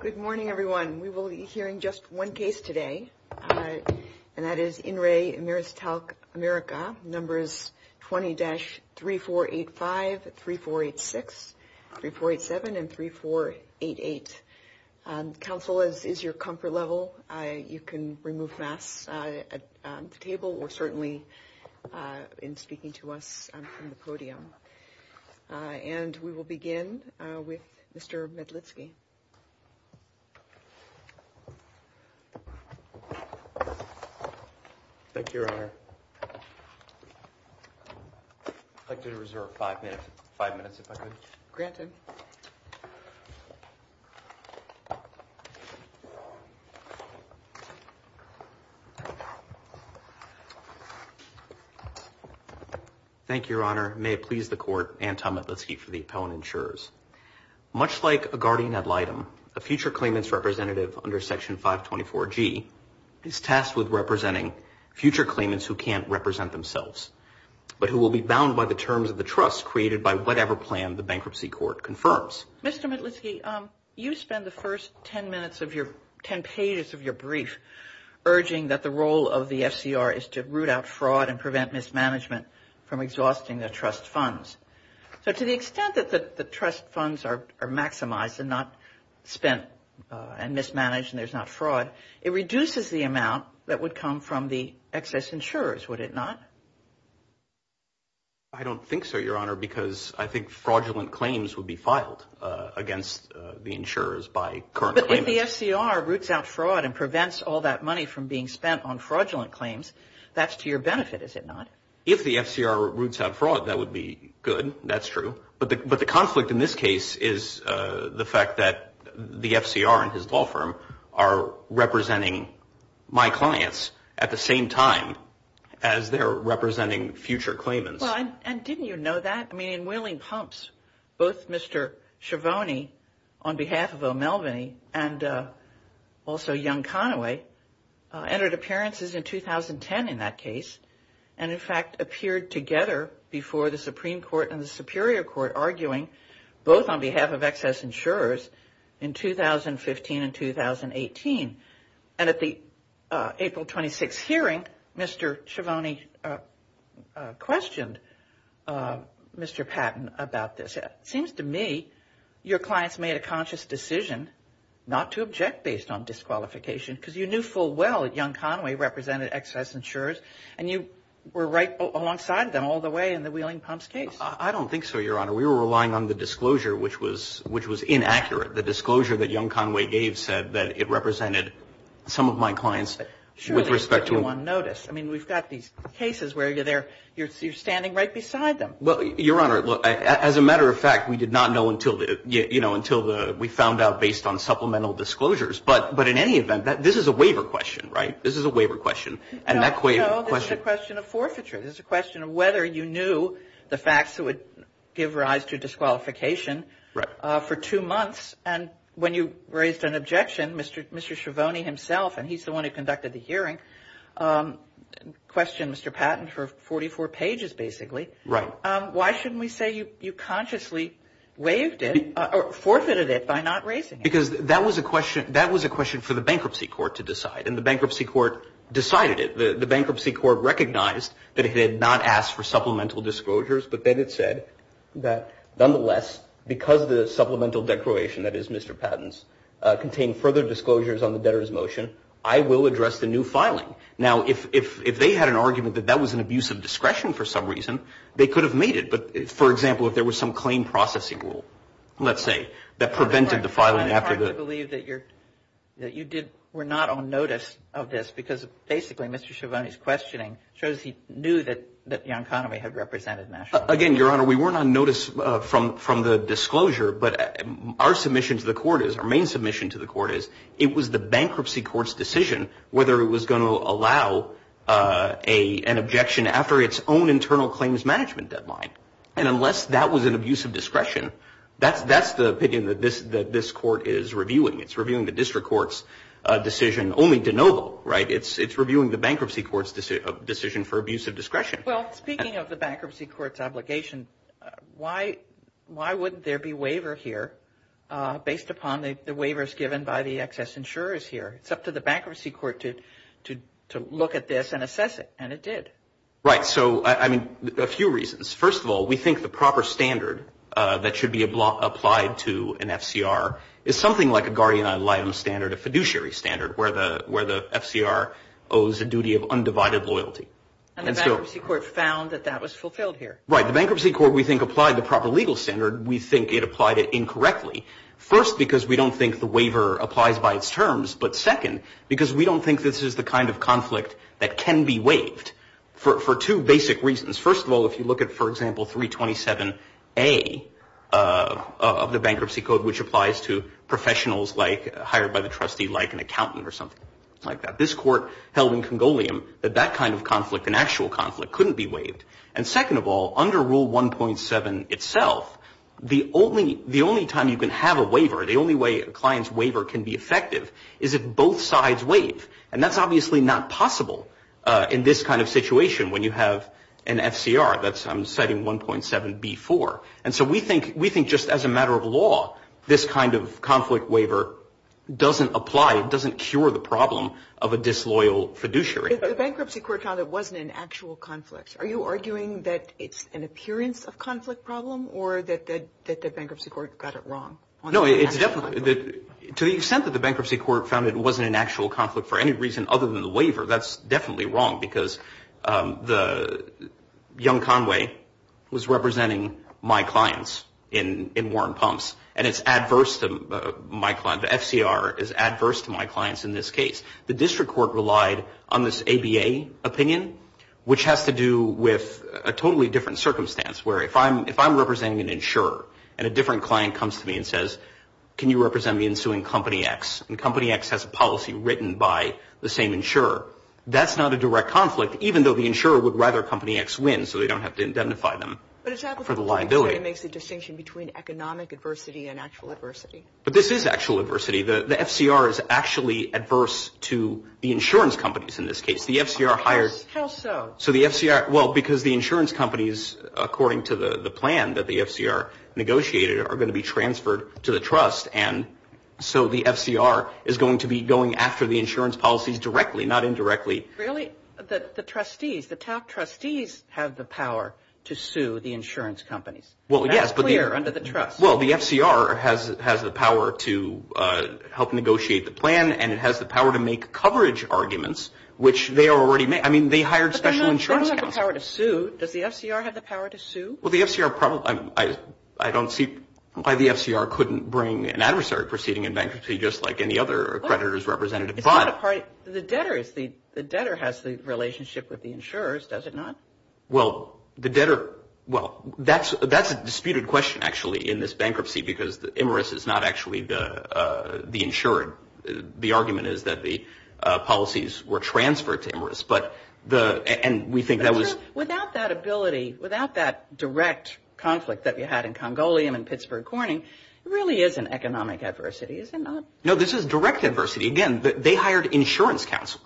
Good morning, everyone. We will be hearing just one case today And that is in Ray Amir's talc America numbers 20-3 4 8 5 3 4 8 6 3 4 8 7 and 3 4 8 8 Council is your comfort level. I you can remove math Table or certainly? In speaking to us on the podium And we will begin with mr. Medlitsky Thank Your honor Like to reserve five minutes five minutes if I could granted Thank Your Honor may please the court and Tom at the seat for the opponent sures Much like a guardian ad litem a future claimants representative under section 524 G is tasked with representing future claims who can't represent themselves But who will be bound by the terms of the trust created by whatever plan the bankruptcy court confirms mr. Medlitsky you spend the first 10 minutes of your 10 pages of your brief Urging that the role of the FCR is to root out fraud and prevent mismanagement from exhausting their trust funds So to the extent that the trust funds are maximized and not spent And mismanaged and there's not fraud it reduces the amount that would come from the excess insurers. Would it not I? Don't think so your honor because I think fraudulent claims would be filed Against the insurers by current the FCR roots out fraud and prevents all that money from being spent on fraudulent claims That's to your benefit if it not if the FCR roots out fraud that would be good, that's true but the but the conflict in this case is the fact that the FCR and his law firm are Representing my clients at the same time as they're representing future claimants I'm and didn't you know that I mean wheeling pumps both mr. Shavoni on behalf of O'Melveny and also young Conaway Entered appearances in 2010 in that case and in fact appeared together before the Supreme Court and the Superior Court arguing both on behalf of excess insurers in 2015 and 2018 and at the April 26 hearing mr. Shavani Questioned Mr. Patton about this it seems to me your clients made a conscious decision Not to object based on disqualification because you knew full well young Conway represented excess insurers and you were right Alongside them all the way in the wheeling pumps case. I don't think so your honor We were relying on the disclosure, which was which was inaccurate the disclosure that young Conway gave said that it represented Some of my clients with respect to one notice I mean, we've got these cases where you're there you're standing right beside them Well your honor look as a matter of fact We did not know until the you know until the we found out based on supplemental disclosures But but in any event that this is a waiver question, right? This is a waiver question and that way There's a question of whether you knew the facts that would give rise to disqualification Right for two months and when you raised an objection, mr. Mr. Shavani himself, and he's the one who conducted the hearing Questioned mr. Patton for 44 pages basically, right? Why shouldn't we say you consciously? Waved it Forfeited it by not raising because that was a question that was a question for the bankruptcy court to decide and the bankruptcy court Decided it the bankruptcy court recognized that it had not asked for supplemental disclosures But then it said that nonetheless because the supplemental declaration that is mr. Patton's contained further disclosures on the debtors motion I will address the new filing now if if they had an argument that that was an abuse of discretion for some reason they could Have made it but for example, if there was some claim processing rule, let's say that prevented the filing after this That you did we're not on notice of this because basically mr Shavani's questioning shows he knew that that young economy had represented national again, your honor We weren't on notice from from the disclosure But our submission to the court is our main submission to the court is it was the bankruptcy courts decision whether it was going to allow A an objection after its own internal claims management deadline and unless that was an abuse of discretion That that's the opinion that this that this court is reviewing. It's reviewing the district courts Decision only de novo, right? It's it's reviewing the bankruptcy courts decision for abuse of discretion. Well speaking of the bankruptcy courts obligation Why why wouldn't there be waiver here? Based upon the waivers given by the excess insurers here It's up to the bankruptcy court to to look at this and assess it and it did right So I mean a few reasons first of all, we think the proper standard that should be a block applied to an FCR It's something like a guardian idol item standard a fiduciary standard where the where the FCR owes a duty of undivided loyalty And so if you court found that that was fulfilled here, right the bankruptcy court we think applied the proper legal standard We think it applied it incorrectly first because we don't think the waiver applies by its terms But second because we don't think this is the kind of conflict that can be waived For two basic reasons. First of all, if you look at for example, 327 a Of the bankruptcy code which applies to Professionals like hired by the trustee like an accountant or something like that this court held in congoleum But that kind of conflict an actual conflict couldn't be waived and second of all under rule 1.7 itself The only the only time you can have a waiver The only way a client's waiver can be effective is if both sides wait and that's obviously not possible In this kind of situation when you have an FCR, that's I'm setting 1.7 before and so we think we think just as a matter of law this kind of conflict waiver Doesn't apply it doesn't cure the problem of a disloyal fiduciary bankruptcy court on it wasn't an actual conflict Are you arguing that it's an appearance of conflict problem or that the bankruptcy court got it wrong? Well, no, it's definitely good to the extent that the bankruptcy court found It wasn't an actual conflict for any reason other than the waiver. That's definitely wrong because the Young Conway was representing my clients in in Warren pumps and it's adverse to my client The FCR is adverse to my clients in this case the district court relied on this ABA opinion Which has to do with a totally different circumstance where if I'm if I'm representing an insurer and a different client comes to me and Says can you represent me in suing company X and company X has a policy written by the same insurer? That's not a direct conflict Even though the insurer would rather company X win so they don't have to identify them The liability makes a distinction between economic adversity and actual adversity, but this is actual adversity The FCR is actually adverse to the insurance companies in this case the FCR higher So the FCR well because the insurance companies according to the the plan that the FCR negotiated are going to be transferred to the trust and So the FCR is going to be going after the insurance policy directly not indirectly Really that the trustees the top trustees have the power to sue the insurance companies. Well, yes But they are under the truck. Well, the FCR has has the power to Help negotiate the plan and it has the power to make coverage arguments, which they are already made I mean they hired special insurance Does the FCR have the power to sue well the FCR problem? I I don't see why the FCR couldn't bring an adversary proceeding in bankruptcy just like any other creditors representative But the debtors the debtor has the relationship with the insurers does it not? Well the debtor well, that's that's a disputed question actually in this bankruptcy because the emirates is not actually the insured the argument is that the Policies were transferred to emirates But the and we think that was without that ability without that direct conflict that you had in Congolian and Pittsburgh Corning Really is an economic adversity. Is it not? No, this is direct adversity again, but they hired insurance counsel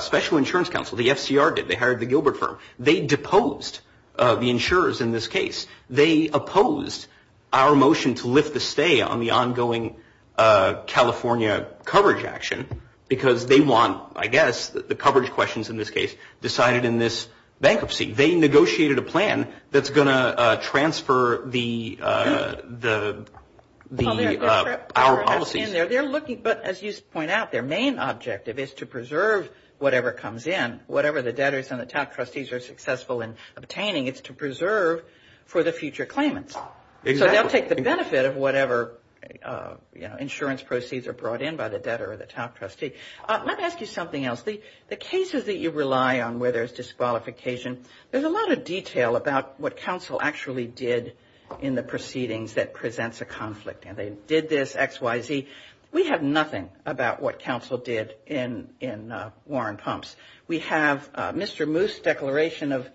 Special insurance counsel the FCR did they hired the Gilbert firm they deposed The insurers in this case they opposed our motion to lift the stay on the ongoing California coverage action because they want I guess the coverage questions in this case decided in this bankruptcy they negotiated a plan that's going to transfer the the Our policy they're looking but as you point out their main objective is to preserve Whatever comes in whatever the debtors and the top trustees are successful in obtaining. It's to preserve for the future claimant They'll take the benefit of whatever Insurance proceeds are brought in by the debtor or the top trustee. Let me ask you something else We the cases that you rely on whether it's disqualification There's a lot of detail about what counsel actually did in the proceedings that presents a conflict and they did this XYZ We have nothing about what counsel did in in Warren pumps. We have mr. Moose declaration of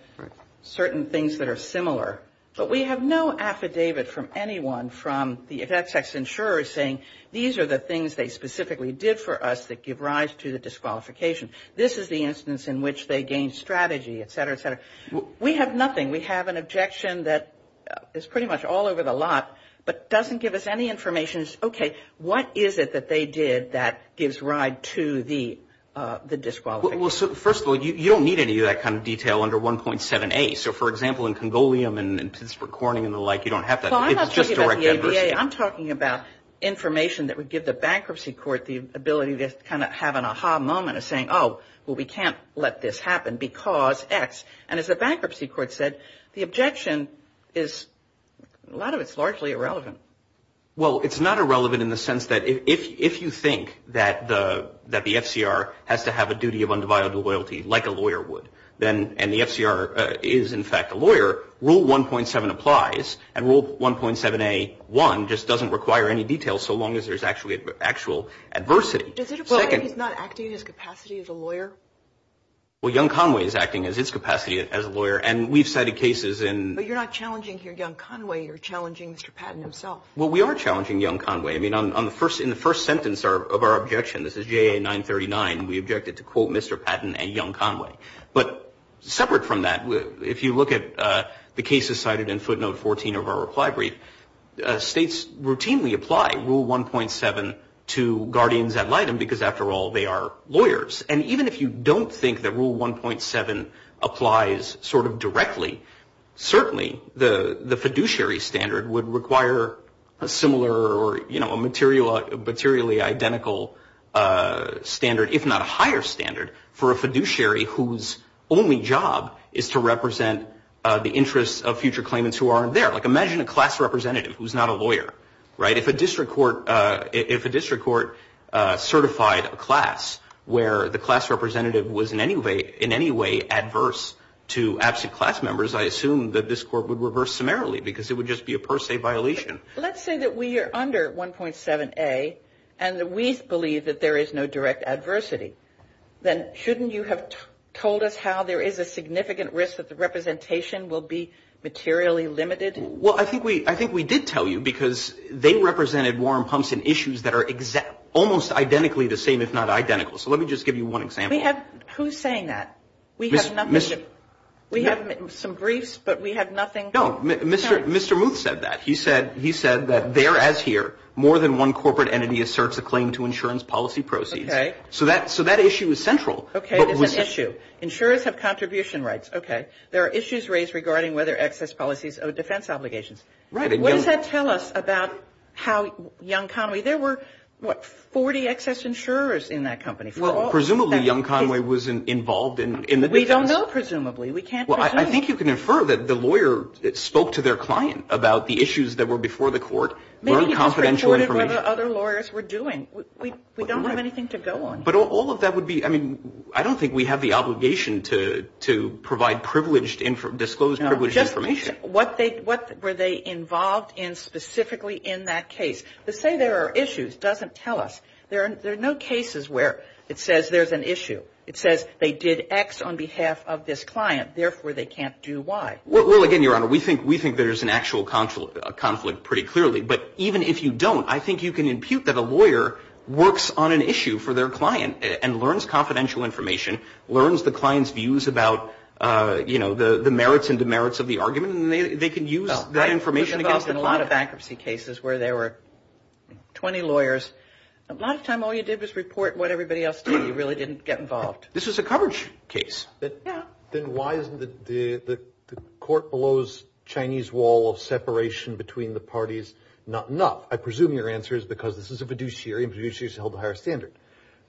Certain things that are similar But we have no affidavit from anyone from the effects ex insurers saying these are the things they specifically did for us that give rise To the disqualification. This is the instance in which they gained strategy, etc. So we have nothing We have an objection that is pretty much all over the lot, but doesn't give us any information okay, what is it that they did that gives ride to the Disqualified. Well, so first of all, you don't need any of that kind of detail under 1.7 a so for example in Congolian and Recording and the like you don't have that I'm talking about Information that would give the bankruptcy court the ability to kind of have an aha moment of saying oh, well, we can't let this happen because X and as a bankruptcy court said the objection is a Lot of it's largely irrelevant Well, it's not irrelevant in the sense that if you think that the that the FCR has to have a duty of undivided loyalty Like a lawyer would then and the FCR is in fact a lawyer rule 1.7 applies and rule 1.7 a 1 just doesn't require any detail. So long as there's actually actual adversity Well young Conway is acting as its capacity as a lawyer and we've cited cases in but you're not challenging here young Conway You're challenging mr. Patton himself. Well, we are challenging young Conway. I mean on the first in the first sentence are of our objection This is GA 939. We objected to quote. Mr. Patton and young Conway, but Separate from that if you look at the cases cited in footnote 14 of our reply brief States routinely apply rule 1.7 to guardians ad litem because after all they are lawyers and even if you don't think that rule 1.7 applies sort of directly Certainly the the fiduciary standard would require a similar or you know a material materially identical standard if not a higher standard for a fiduciary whose Only job is to represent the interest of future claimants who aren't there like imagine a class representative who's not a lawyer right if a district court if a district court Certified a class where the class representative was in any way in any way adverse To absent class members. I assume that this court would reverse summarily because it would just be a per se violation Let's say that we are under 1.7 a and that we believe that there is no direct adversity Then shouldn't you have told us how there is a significant risk that the representation will be materially limited Well, I think we I think we did tell you because they represented warm pumps and issues that are exact almost identically the same Identical so let me just give you one example. Yeah, who's saying that we have We have some briefs, but we have nothing. No, mr. Mr. Moot said that he said he said that there as here More than one corporate entity asserts a claim to insurance policy proceeds. Okay, so that so that issue is central Okay, this issue insurers have contribution rights. Okay, there are issues raised regarding whether excess policies or defense obligations, right? About how young Conway there were what 40 excess insurers in that company Well, presumably young Conway wasn't involved in in that. We don't know presumably we can't well I think you can infer that the lawyer that spoke to their client about the issues that were before the court Confidential other lawyers were doing we don't have anything to go on but all of that would be I mean I don't think we have the obligation to to provide privileged in for disclosed What they what were they involved in specifically in that case let's say there are issues doesn't tell us there There are no cases where it says there's an issue. It says they did X on behalf of this client Therefore they can't do why well again your honor. We think we think there's an actual console a conflict pretty clearly But even if you don't I think you can impute that a lawyer Works on an issue for their client and learns confidential information learns the clients views about You know the the merits and demerits of the argument they can use that information in a lot of accuracy cases where there were 20 lawyers a lot of time. All you did was report what everybody else did you really didn't get involved? This was a coverage case Then why is the the the court blows Chinese wall separation between the parties not enough? I presume your answer is because this is a fiduciary But you choose to hold a higher standard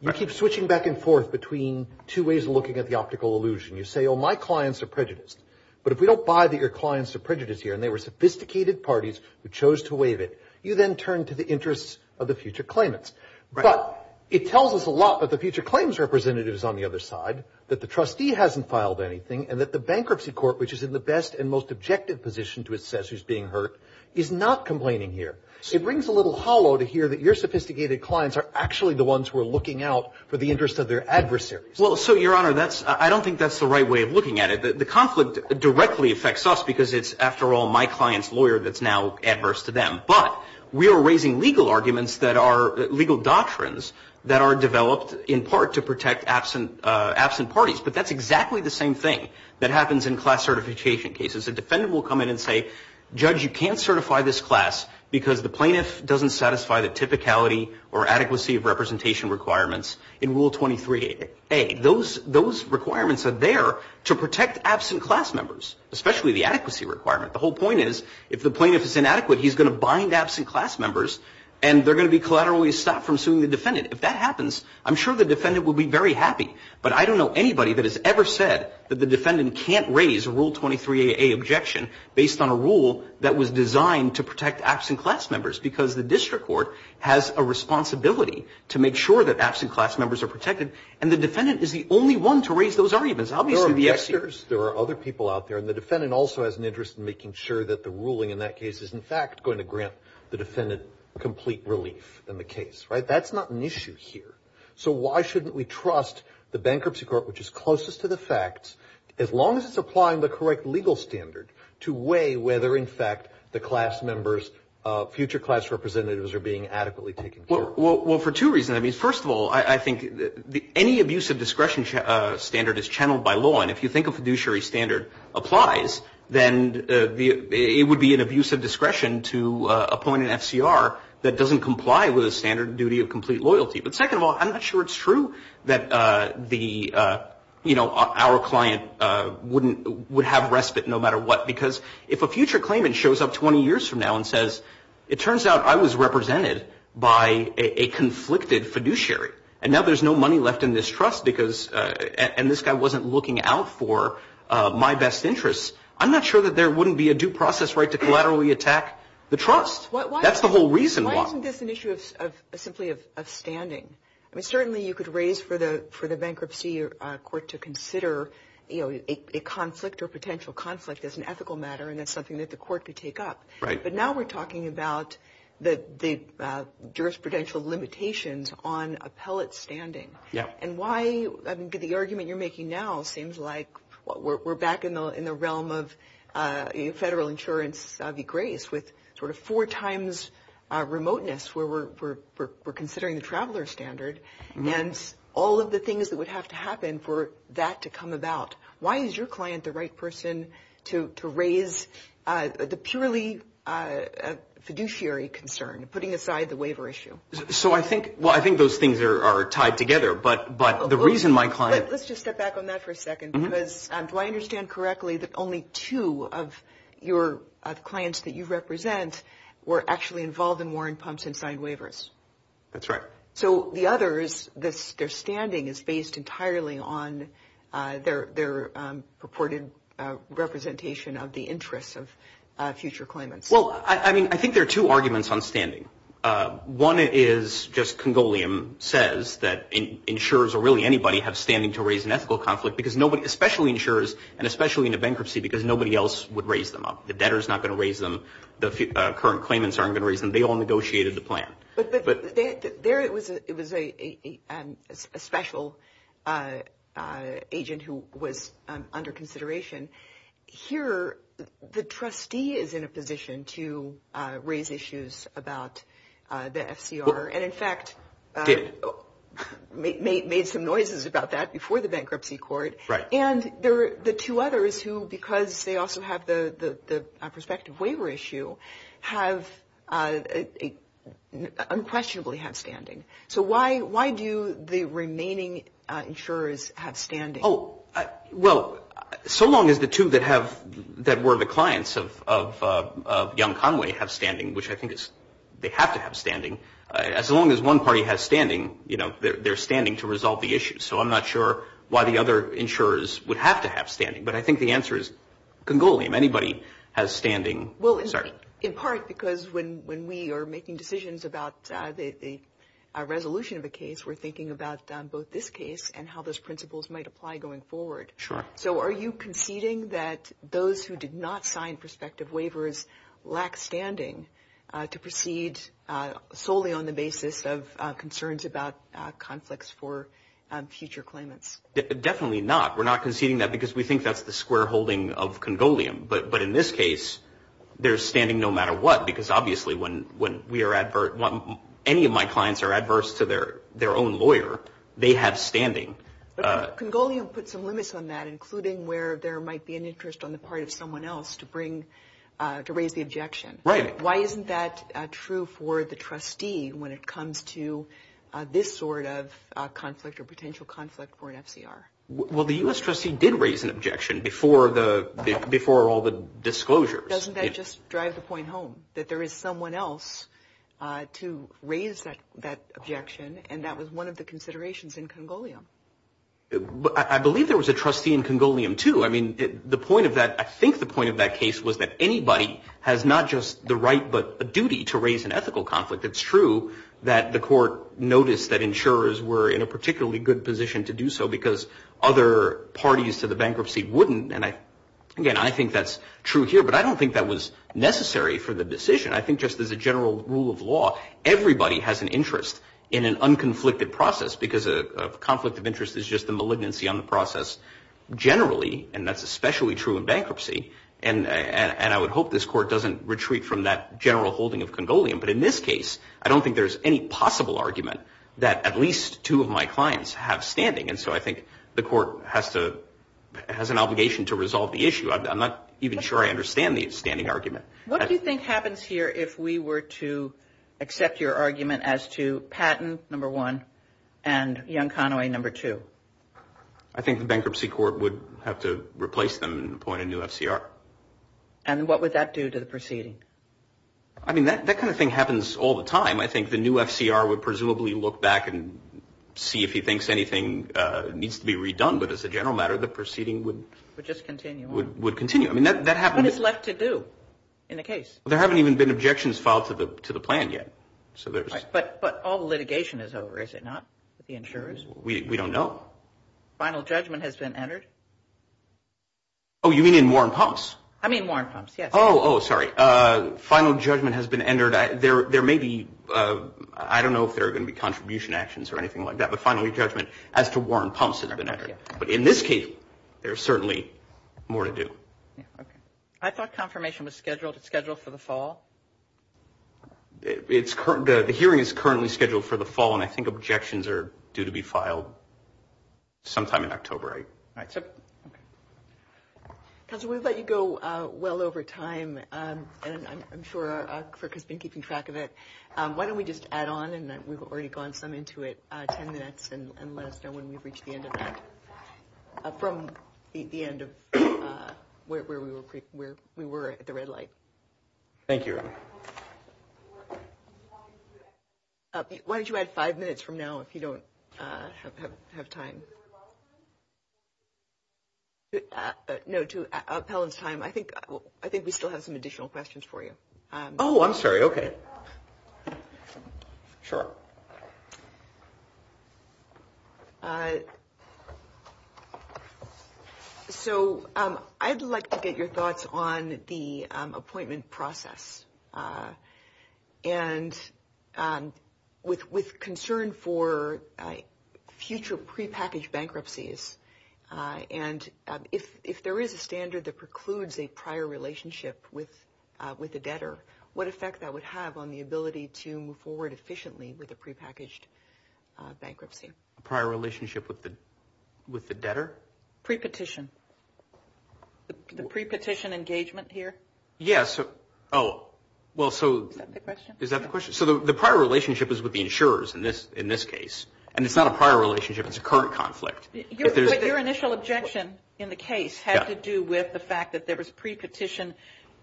you keep switching back and forth between two ways looking at the optical illusion You say oh my clients are prejudiced But if we don't buy that your clients are prejudiced here And they were sophisticated parties who chose to waive it you then turn to the interests of the future claimants But it tells us a lot that the future claims Representatives on the other side that the trustee hasn't filed anything and that the bankruptcy court Which is in the best and most objective position to assess who's being hurt is not complaining here It brings a little hollow to hear that your sophisticated clients are actually the ones who are looking out for the interest of their adversary Well, so your honor that's I don't think that's the right way of looking at it The conflict directly affects us because it's after all my clients lawyer That's now adverse to them But we are raising legal arguments that are legal doctrines that are developed in part to protect absent absent parties But that's exactly the same thing that happens in class certification cases a defendant will come in and say judge You can't certify this class because the plaintiff doesn't satisfy the typicality or adequacy of representation Requirements in rule 23 a those those requirements are there to protect absent class members especially the adequacy requirement the whole point is if the plaintiff is inadequate he's going to bind absent class members and They're going to be collateral we stop from suing the defendant if that happens I'm sure the defendant would be very happy But I don't know anybody that has ever said that the defendant can't raise rule 23 a objection based on a rule that was designed to protect absent class members because the district court has a Responsibility to make sure that absent class members are protected and the defendant is the only one to raise those arguments How many of the extras there are other people out there and the defendant also has an interest in making sure that the ruling in That case is in fact going to grant the defendant complete relief in the case, right? That's not an issue here So why shouldn't we trust the bankruptcy court? Which is closest to the facts as long as it's applying the correct legal standard to weigh whether in fact the class members Future class representatives are being adequately taken for well for two reason I mean first of all I think that any abuse of discretion standard is channeled by law and if you think of fiduciary standard applies Then it would be an abuse of discretion to a point in FCR That doesn't comply with a standard duty of complete loyalty. But second of all, I'm not sure. It's true that the You know our client Wouldn't would have respite no matter what because if a future claimant shows up 20 years from now and says It turns out I was represented by a conflicted fiduciary And now there's no money left in this trust because and this guy wasn't looking out for my best interests I'm not sure that there wouldn't be a due process right to collaterally attack the trust. That's the whole reason Standing I mean certainly you could raise for the for the bankruptcy or court to consider You know a conflict or potential conflict is an ethical matter and it's something that the court could take up, right? but now we're talking about that the jurisprudential limitations on appellate standing yeah, and why I think the argument you're making now seems like what we're back in the in the realm of federal insurance the grace with sort of four times remoteness where we're Considering the traveler standard and all of the things that would have to happen for that to come about Why is your client the right person to raise? the purely Fiduciary concern putting aside the waiver issue. So I think well, I think those things are tied together but but the reason my client Do I understand correctly that only two of your Clients that you represent were actually involved in Warren pumps and signed waivers. That's right So the other is this their standing is based entirely on their their purported Representation of the interests of future claimants. Well, I mean, I think there are two arguments on standing one is just Congolian says that in insurers or really anybody have standing to raise an ethical conflict because nobody especially insurers and especially in a bankruptcy because Nobody else would raise them up. The debtor is not going to raise them the current claimants aren't going to raise them they all negotiated the plan, but There it was. It was a special Agent who was under consideration here the trustee is in a position to raise issues about the FCR and in fact Made some noises about that before the bankruptcy court right, and there were the two others who because they also have the the perspective waiver issue have a Unquestionably have standing so why why do the remaining insurers have standing? Oh well, so long as the two that have that were the clients of Young Conway have standing which I think is they have to have standing as long as one party has standing You know, they're standing to resolve the issue So I'm not sure why the other insurers would have to have standing but I think the answer is Congolian anybody has standing well in part because when when we are making decisions about the Resolution of a case we're thinking about both this case and how those principles might apply going forward Sure, so are you conceding that those who did not sign perspective waivers lack standing to proceed? solely on the basis of concerns about conflicts for Future claimants definitely not we're not conceding that because we think that's the square holding of Congolian, but but in this case They're standing no matter what because obviously when when we are advert one any of my clients are adverse to their their own lawyer They have standing Congolian put some limits on that including where there might be an interest on the part of someone else to bring To raise the objection, right? Why isn't that true for the trustee when it comes to? This sort of conflict or potential conflict for an FCR Well, the US trustee did raise an objection before the before all the disclosures Doesn't that just drive the point home that there is someone else? To raise that that objection and that was one of the considerations in Congolian But I believe there was a trustee in Congolian to I mean the point of that I think the point of that case was that anybody has not just the right but a duty to raise an ethical conflict It's true that the court noticed that insurers were in a particularly good position to do so because other Parties to the bankruptcy wouldn't and I again, I think that's true here, but I don't think that was necessary for the decision I think just as a general rule of law Everybody has an interest in an unconflicted process because a conflict of interest is just a malignancy on the process Generally, and that's especially true in bankruptcy and and I would hope this court doesn't retreat from that general holding of Congolian But in this case, I don't think there's any possible argument that at least two of my clients have standing And so I think the court has to Has an obligation to resolve the issue. I'm not even sure I understand the standing argument what do you think happens here if we were to accept your argument as to Patton number one and young Conway number two, I Think the bankruptcy court would have to replace them and appoint a new FCR. And what would that do to the proceeding? I mean that that kind of thing happens all the time. I think the new FCR would presumably look back and See if he thinks anything needs to be redone, but as a general matter the proceeding would just continue would continue I mean that happened it's left to do in the case. There haven't even been objections filed to the to the plan yet So there's but but all the litigation is over. Is it not the insurers? We don't know Final judgment has been entered. Oh Final judgment has been entered at there. There may be I don't know if they're going to be contribution actions or anything like that But finally judgment as to Warren Thompson have been ever but in this case, there's certainly more to do I thought confirmation was scheduled to schedule for the fall It's current the hearing is currently scheduled for the fall and I think objections are due to be filed sometime in October, right? Because what if I could go well over time And I'm sure I could think you can track of it Why don't we just add on and that we've already gone some into it 10 minutes and let us know when we reach the end of? from the end of Where we were we were at the red light Thank you Why don't you add five minutes from now if you don't have time No to appellate time, I think I think we still have some additional questions for you. Oh, I'm sorry. Okay Sure So, I'd like to get your thoughts on the appointment process and With with concern for future prepackaged bankruptcies And if if there is a standard that precludes a prior relationship with With the debtor what effect that would have on the ability to move forward efficiently with a prepackaged Bankruptcy prior relationship with the with the debtor pre-petition The pre-petition engagement here. Yes. Oh Well, so is that the question so the prior relationship is with the insurers in this in this case and it's not a prior relationship it's a current conflict your initial objection in the case has to do with the fact that there was pre-petition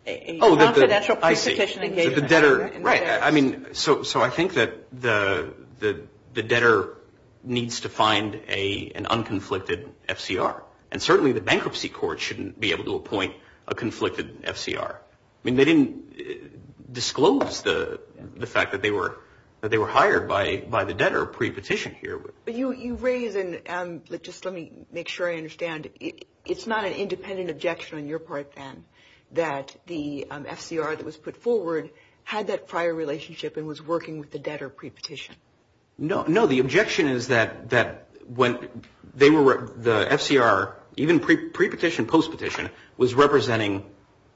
a National competition the debtor right? I mean so so I think that the the the debtor Needs to find a an unconflicted FCR and certainly the bankruptcy court shouldn't be able to appoint a conflicted FCR I mean they didn't Disclose the the fact that they were that they were hired by by the debtor pre-petition here You you raise and let just let me make sure I understand It's not an independent objection on your part fan that the FCR that was put forward Had that prior relationship and was working with the debtor pre-petition No, no The objection is that that when they were the FCR even pre-petition post petition was representing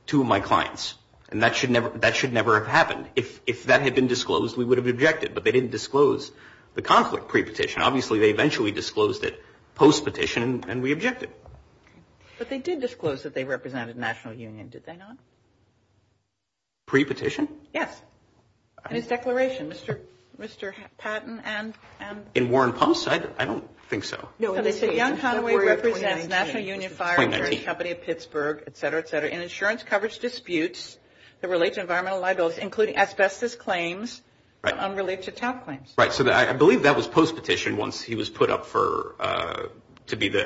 Two of my clients and that should never that should never have happened if if that had been disclosed we would have objected But they didn't disclose the conflict pre-petition. Obviously, they eventually disclosed it post petition and we objected But they did disclose that they represented National Union. Did they not? Pre-petition. Yes It's declaration. Mr. Mr. Patton and and in Warren Pulse said I don't think so No, they said young Conway represented National Union fire insurance company of Pittsburgh, etc In insurance coverage disputes that relate to environmental liabilities including asbestos claims Right unrelated to tap points, right? So that I believe that was post petition once he was put up for to be the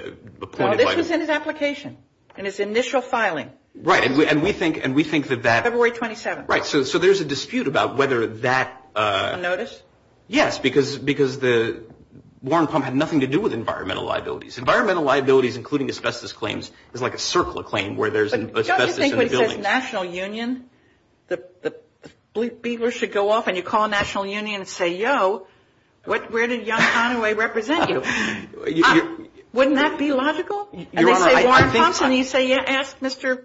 Application and its initial filing right and we think and we think that that every way 27, right? so so there's a dispute about whether that notice yes, because because the Warren pump had nothing to do with environmental liabilities environmental liabilities Including asbestos claims is like a circle of claim where there's an National Union the the blue beavers should go off and you call National Union and say yo What where did young Conway represent you? Wouldn't that be logical? You say yes, mr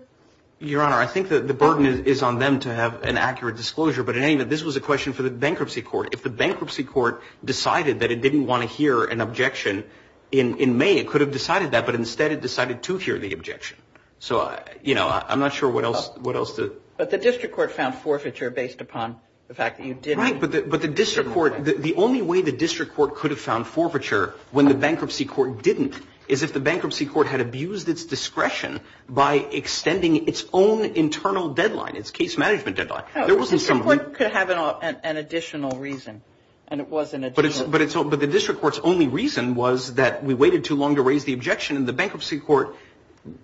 Your honor. I think that the burden is on them to have an accurate disclosure But in any that this was a question for the bankruptcy court if the bankruptcy court Decided that it didn't want to hear an objection in in May It could have decided that but instead it decided to hear the objection So, you know, I'm not sure what else what else did but the district court found forfeiture based upon the fact You did right but the district court the only way the district court could have found forfeiture when the bankruptcy court didn't is if the bankruptcy court Had abused its discretion by extending its own internal deadline. It's case management deadline There wasn't someone could have an additional reason and it wasn't it But it's all but the district court's only reason was that we waited too long to raise the objection and the bankruptcy court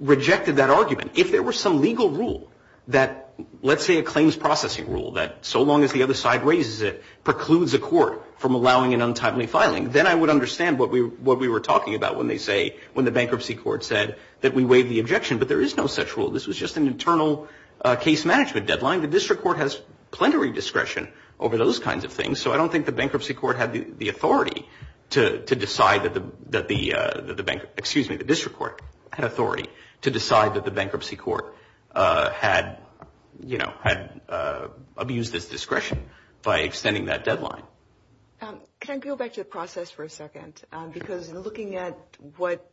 Rejected that argument if there were some legal rule that Let's say a claims processing rule that so long as the other side raises it precludes a court from allowing an untimely filing then I would understand what we what we were talking about when they say when the bankruptcy Court said that we waive the objection, but there is no such rule. This was just an internal case management deadline The district court has plenary discretion over those kinds of things So I don't think the bankruptcy court had the authority to decide that the that the bank Excuse me, the district court had authority to decide that the bankruptcy court had You know had Abused its discretion by extending that deadline Can't go back to the process for a second because we're looking at what?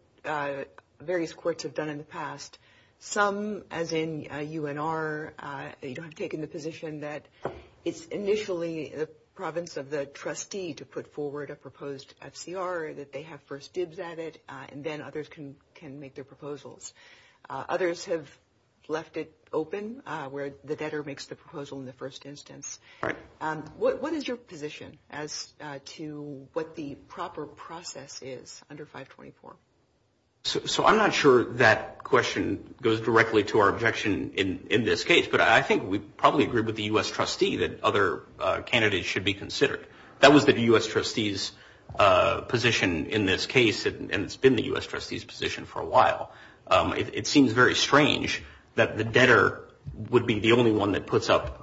Various courts have done in the past some as in you and are You don't have taken the position that it's initially a province of the trustee to put forward a proposed FCR that they have first dibs at it and then others can can make their proposals Others have left it open where the debtor makes the proposal in the first instance What is your position as to what the proper process is under 524? So I'm not sure that question goes directly to our objection in this case But I think we probably agree with the US trustee that other Candidates should be considered that was the US trustees Position in this case and it's been the US trustees position for a while It seems very strange that the debtor would be the only one that puts up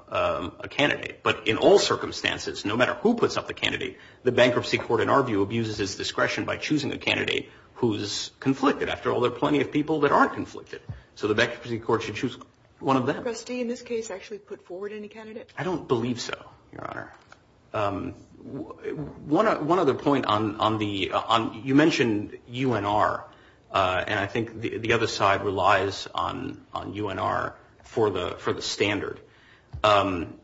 a candidate But in all circumstances No matter who puts up a candidate the bankruptcy court in our view abuses its discretion by choosing a candidate who's Conflicted after all there plenty of people that aren't conflicted. So the bankruptcy court should choose one of them I don't believe so One one other point on on the on you mentioned you and are And I think the other side relies on on you and are for the for the standard And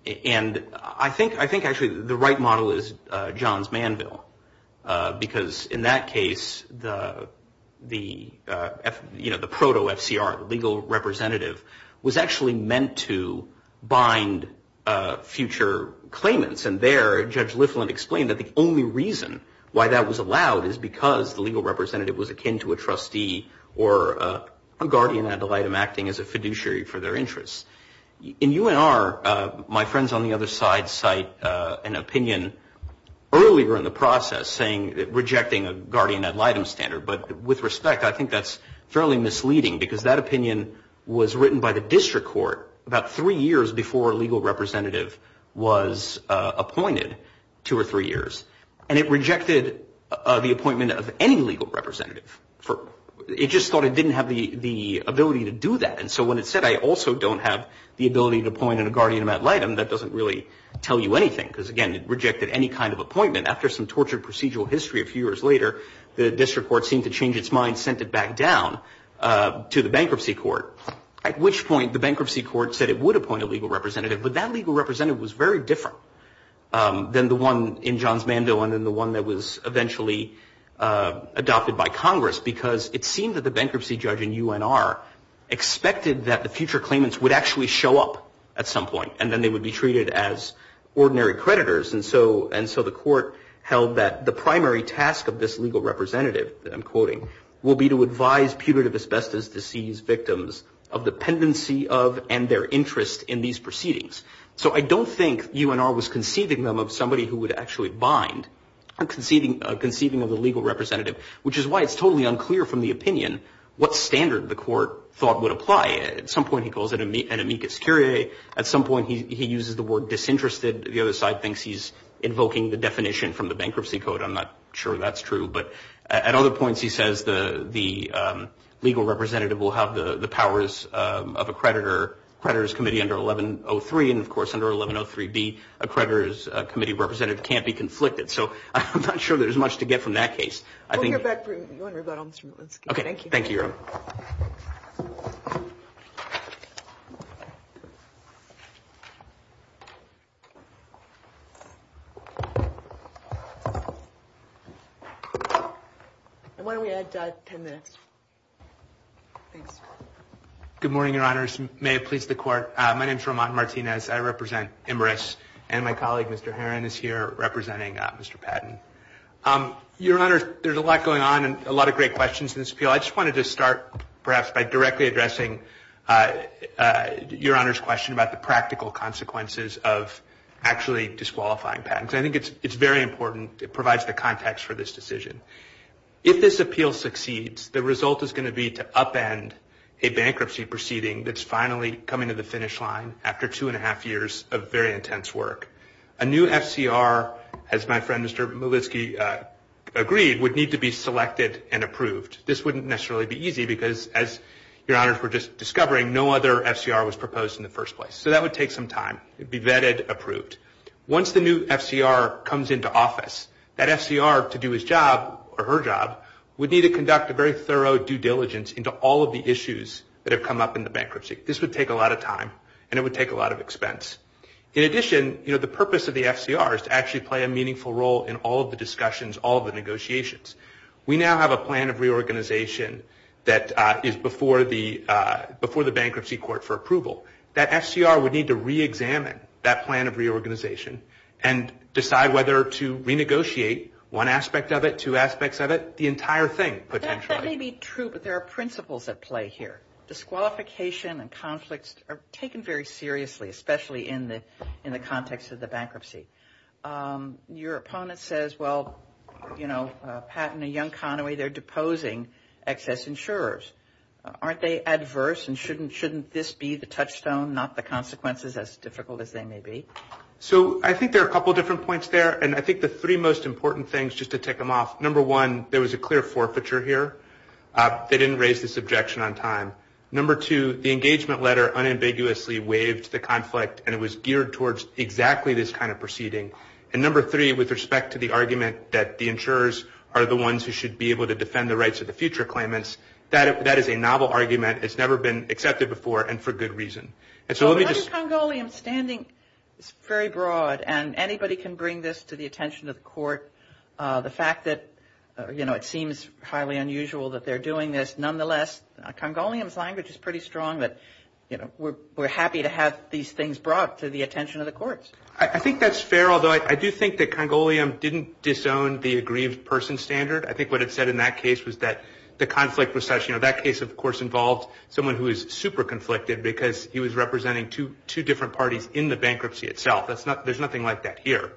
I think I think actually the right model is John's man bill because in that case the the You know, the proto FCR the legal representative was actually meant to bind future claimants and their judge Lifflin explained that the only reason why that was allowed is because the legal representative was akin to a trustee or a guardian ad litem acting as a fiduciary for their interests In you and are my friends on the other side cite an opinion Early were in the process saying that rejecting a guardian ad litem standard, but with respect I think that's fairly misleading because that opinion was written by the district court about three years before a legal representative was Appointed two or three years and it rejected the appointment of any legal representative For it just thought it didn't have the the ability to do that And so when it said I also don't have the ability to point in a guardian ad litem That doesn't really tell you anything because again it rejected any kind of appointment after some tortured procedural history a few years later The district court seemed to change its mind sent it back down To the bankruptcy court at which point the bankruptcy court said it would appoint a legal representative, but that legal representative was very different Than the one in John's mando and in the one that was eventually Adopted by Congress because it seemed that the bankruptcy judge in you and are Expected that the future claimants would actually show up at some point and then they would be treated as Ordinary creditors and so and so the court held that the primary task of this legal representative I'm quoting will be to advise punitive asbestos disease victims of Dependency of and their interest in these proceedings So I don't think you and I was conceiving them of somebody who would actually bind I'm conceiving conceiving of the legal representative Which is why it's totally unclear from the opinion what standard the court thought would apply at some point He calls it a meet an amicus curiae at some point He uses the word disinterested the other side thinks he's invoking the definition from the bankruptcy code I'm not sure that's true, but at other points. He says the the Powers of a creditor creditors committee under 1103 and of course under 1103 be a creditors committee representative Can't be conflicted. So I'm not sure there's much to get from that case. I think Okay, thank you Good morning, your honors may please the court. My name is Ramon Martinez. I represent Imra's and my colleague. Mr Heron is here representing. Mr. Patton Your honor. There's a lot going on and a lot of great questions in this appeal. I just wanted to start perhaps by directly addressing Your honors question about the practical consequences of actually disqualifying patents I think it's it's very important. It provides the context for this decision If this appeal succeeds the result is going to be to upend a bankruptcy proceeding That's finally coming to the finish line after two and a half years of very intense work a new FCR as my friend. Mr Movitzky Agreed would need to be selected and approved This wouldn't necessarily be easy because as your honors were just discovering no other FCR was proposed in the first place So that would take some time Be vetted approved once the new FCR comes into office that FCR to do his job or her job Would need to conduct a very thorough due diligence into all of the issues that have come up in the bankruptcy This would take a lot of time and it would take a lot of expense In addition, you know, the purpose of the FCR is to actually play a meaningful role in all of the discussions all the negotiations we now have a plan of reorganization that is before the Before the bankruptcy court for approval that FCR would need to re-examine that plan of reorganization and Decide whether to renegotiate one aspect of it two aspects of it the entire thing But that may be true, but there are principles at play here Disqualification and conflicts are taken very seriously, especially in the in the context of the bankruptcy Your opponent says well, you know patent a young Conway. They're deposing excess insurers Aren't they adverse and shouldn't shouldn't this be the touchstone not the consequences as difficult as they may be So I think there are a couple different points there and I think the three most important things just to take them off number one There was a clear forfeiture here They didn't raise this objection on time Number two the engagement letter unambiguously waived the conflict and it was geared towards exactly this kind of proceeding And number three with respect to the argument that the insurers are the ones who should be able to defend the rights of the future Claimants that if that is a novel argument, it's never been accepted before and for good reason And so let me just go Liam standing. It's very broad and anybody can bring this to the attention of court The fact that you know, it seems highly unusual that they're doing this. Nonetheless Congolians language is pretty strong that you know, we're happy to have these things brought to the attention of the courts I think that's fair. Although I do think that Congolian didn't disown the aggrieved person standard I think what it said in that case was that the conflict was such, you know That case of course involved someone who is super conflicted because he was representing two two different parties in the bankruptcy itself That's not there's nothing like that here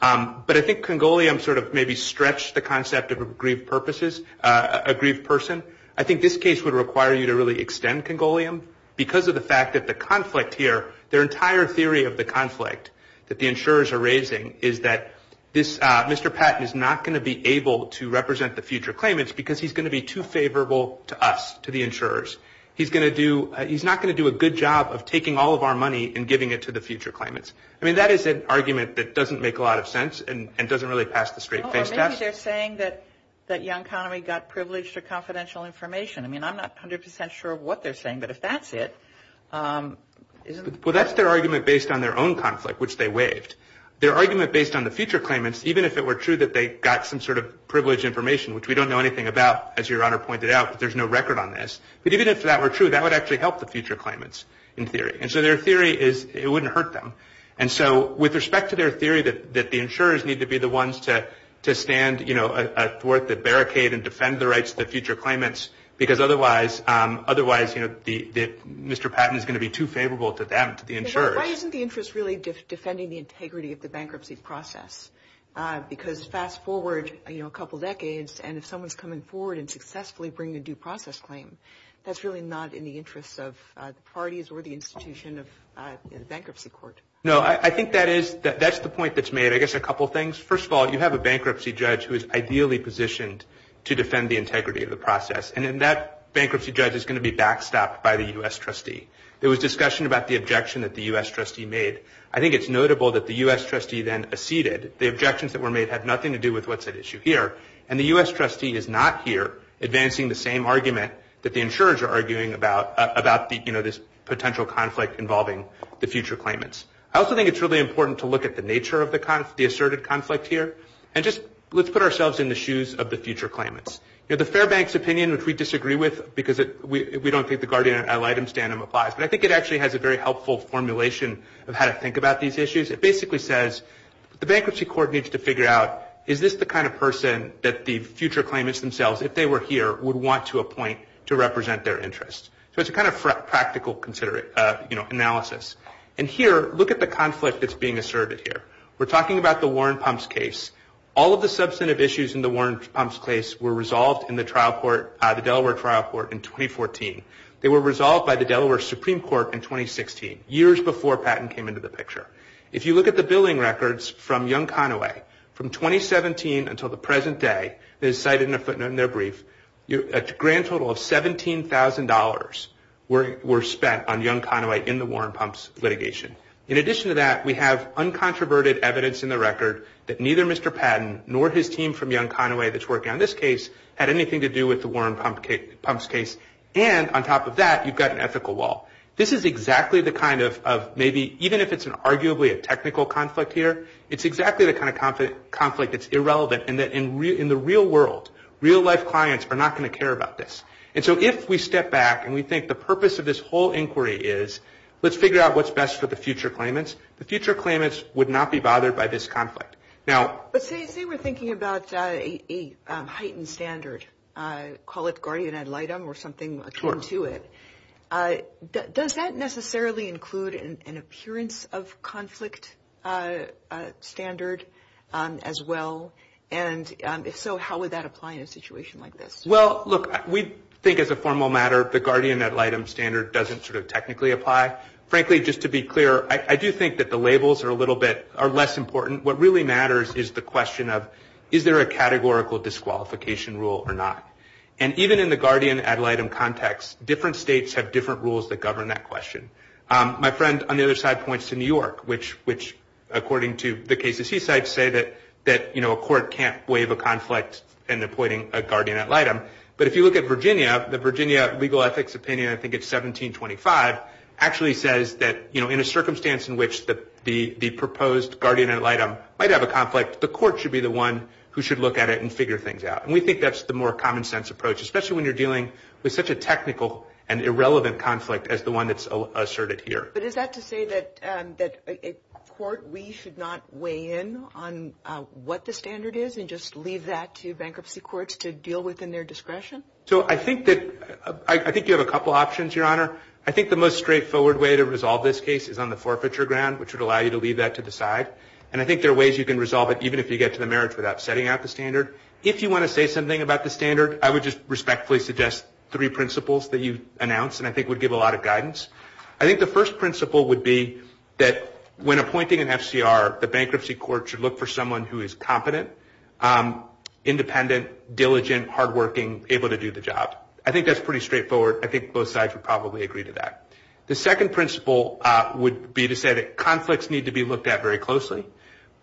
But I think Congolian sort of maybe stretched the concept of aggrieved purposes a grieved person I think this case would require you to really extend Congolian Because of the fact that the conflict here their entire theory of the conflict that the insurers are raising is that this? Mr. Patton is not going to be able to represent the future claimants because he's going to be too favorable to us to the insurers He's going to do he's not going to do a good job of taking all of our money and giving it to the future claimants I mean that is an argument that doesn't make a lot of sense and doesn't really pass the straight face test They're saying that that young economy got privileged or confidential information. I mean, I'm not 100% sure what they're saying. But if that's it Well, that's their argument based on their own conflict Which they waived their argument based on the future claimants Even if it were true that they got some sort of privileged information, which we don't know anything about as your honor pointed out There's no record on this But even if that were true that would actually help the future claimants in theory And so their theory is it wouldn't hurt them And so with respect to their theory that that the insurers need to be the ones to to stand You know a fourth that barricade and defend the rights of the future claimants because otherwise Otherwise, you know the Mr. Patton is going to be too favorable to them to the insurers Why isn't the interest really just defending the integrity of the bankruptcy process? Because fast forward, you know a couple decades and if someone's coming forward and successfully bring the due process claim That's really not in the interest of parties or the institution of bankruptcy court No, I think that is that that's the point that's made I guess a couple things first of all You have a bankruptcy judge who is ideally positioned to defend the integrity of the process and in that Bankruptcy judge is going to be backstopped by the US trustee There was discussion about the objection that the US trustee made I think it's notable that the US trustee then Acceded the objections that were made had nothing to do with what's at issue here and the US trustee is not here Advancing the same argument that the insurers are arguing about about the you know, this potential conflict involving the future claimants I also think it's really important to look at the nature of the kind of the asserted conflict here and just let's put ourselves in the shoes of the future claimants The Fairbanks opinion which we disagree with because it we don't think the guardian ad litem standard applies But I think it actually has a very helpful formulation of how to think about these issues It basically says the bankruptcy court needs to figure out Is this the kind of person that the future claimants themselves if they were here would want to appoint to represent their interests? So it's a kind of practical considerate, you know analysis and here look at the conflict that's being asserted here We're talking about the Warren Pumphs case all of the substantive issues in the Warren Pumphs case were resolved in the trial court the Delaware trial court in 2014 they were resolved by the Delaware Supreme Court in 2016 years before patent came into the picture if you look at the billing records from young Conaway from 2017 until the present day is cited in a footnote in their brief. You're a grand total of $17,000 where we're spent on young Conaway in the Warren Pumphs litigation in addition to that we have Uncontroverted evidence in the record that neither. Mr. Patton nor his team from young Conaway That's working on this case had anything to do with the Warren Pumphs case and on top of that You've got an ethical wall. This is exactly the kind of maybe even if it's an arguably a technical conflict here It's exactly the kind of confident conflict It's irrelevant and that in real in the real world real life clients are not going to care about this And so if we step back and we think the purpose of this whole inquiry is let's figure out What's best for the future claimants the future claimants would not be bothered by this conflict now, but say we're thinking about a Heightened standard I call it guardian ad litem or something to it Does that necessarily include an appearance of conflict? Standard as well and So, how would that apply in a situation like this? Look we think as a formal matter the guardian ad litem standard doesn't sort of technically apply frankly just to be clear I do think that the labels are a little bit are less important What really matters is the question of is there a categorical disqualification rule or not? And even in the guardian ad litem context different states have different rules that govern that question My friend on the other side points to New York Which which according to the case the seaside say that that you know A court can't waive a conflict and appointing a guardian ad litem But if you look at Virginia the Virginia legal ethics opinion, I think it's 1725 Actually says that you know in a circumstance in which the the the proposed guardian ad litem might have a conflict The court should be the one who should look at it and figure things out We think that's the more common-sense approach Especially when you're dealing with such a technical and irrelevant conflict as the one that's asserted here But is that to say that that a court we should not weigh in on What the standard is and just leave that to bankruptcy courts to deal with in their discretion So I think that I think you have a couple options your honor I think the most straightforward way to resolve this case is on the forfeiture ground which would allow you to leave that to the side And I think there are ways you can resolve it Even if you get to the marriage without setting out the standard if you want to say something about the standard I would just respectfully suggest three principles that you announced and I think would give a lot of guidance I think the first principle would be that when appointing an FCR the bankruptcy court should look for someone who is competent Independent diligent hard-working able to do the job. I think that's pretty straightforward I think both sides would probably agree to that The second principle would be to say that conflicts need to be looked at very closely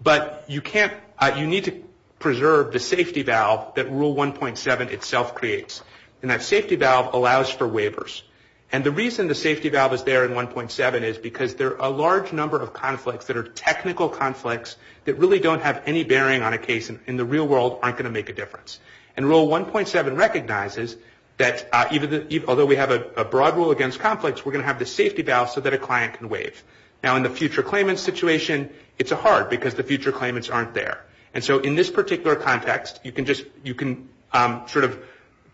But you can't you need to preserve the safety valve that rule 1.7 itself creates And that safety valve allows for waivers And the reason the safety valve is there in 1.7 is because there are a large number of conflicts that are technical conflicts that really don't have any bearing on a case in the real world aren't going to make a difference and rule 1.7 recognizes that Even if although we have a broad rule against conflicts We're going to have the safety valve so that a client can waive now in the future claimant situation It's a hard because the future claimants aren't there. And so in this particular context, you can just you can sort of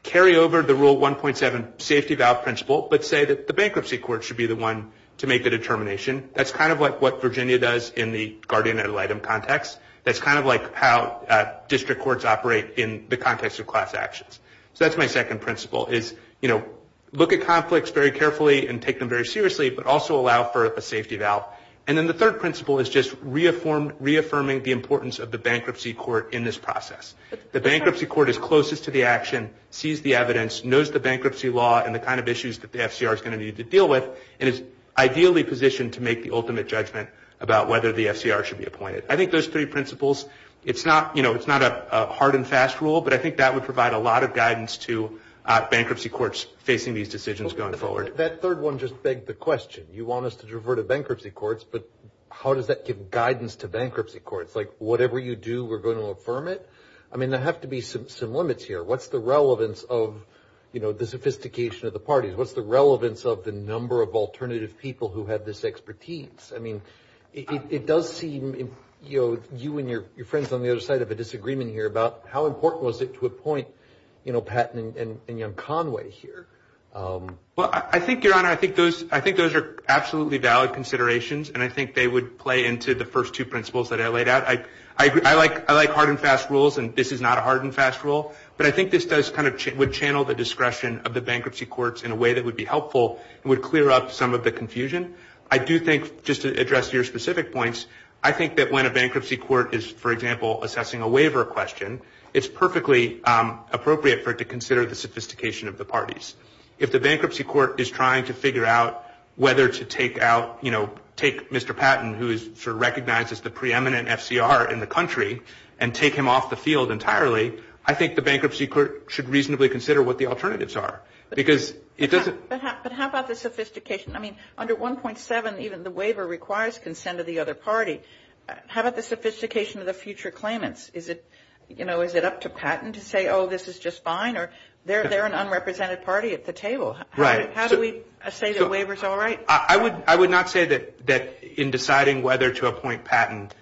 Carry over the rule 1.7 safety valve principle, but say that the bankruptcy court should be the one to make the determination That's kind of like what Virginia does in the guardian ad litem context. That's kind of like how District courts operate in the context of class actions So that's my second principle is, you know Look at conflicts very carefully and take them very seriously But also allow for a safety valve and then the third principle is just reaffirmed Reaffirming the importance of the bankruptcy court in this process the bankruptcy court is closest to the action sees the evidence knows the bankruptcy law and the kind of issues that the FCR is going To need to deal with and is ideally positioned to make the ultimate judgment about whether the FCR should be appointed I think those three principles. It's not you know, it's not a hard and fast rule But I think that would provide a lot of guidance to Bankruptcy courts facing these decisions going forward that third one just begged the question you want us to driver to bankruptcy courts How does that give guidance to bankruptcy courts like whatever you do we're going to affirm it I mean there have to be some limits here. What's the relevance of you know, the sophistication of the parties? What's the relevance of the number of alternative people who have this expertise? I mean it does seem you know You and your friends on the other side of a disagreement here about how important was it to a point, you know Pat and young Conway here Well, I think your honor I think those I think those are absolutely valid considerations And I think they would play into the first two principles that I laid out I I like I like hard and fast rules and this is not a hard and fast rule But I think this does kind of would channel the discretion of the bankruptcy courts in a way that would be helpful It would clear up some of the confusion. I do think just to address your specific points I think that when a bankruptcy court is for example assessing a waiver question. It's perfectly Appropriate for it to consider the sophistication of the parties if the bankruptcy court is trying to figure out whether to take out You know take mr Patton who is recognized as the preeminent FCR in the country and take him off the field entirely I think the bankruptcy court should reasonably consider what the alternatives are because it doesn't Sophistication. I mean under 1.7, even the waiver requires consent of the other party How about the sophistication of the future claimants is it, you know, is it up to Patton to say? Oh, this is just fine, or they're they're an unrepresented party at the table, right? How do we say the waivers? All right, I would I would not say that that in deciding whether to appoint patent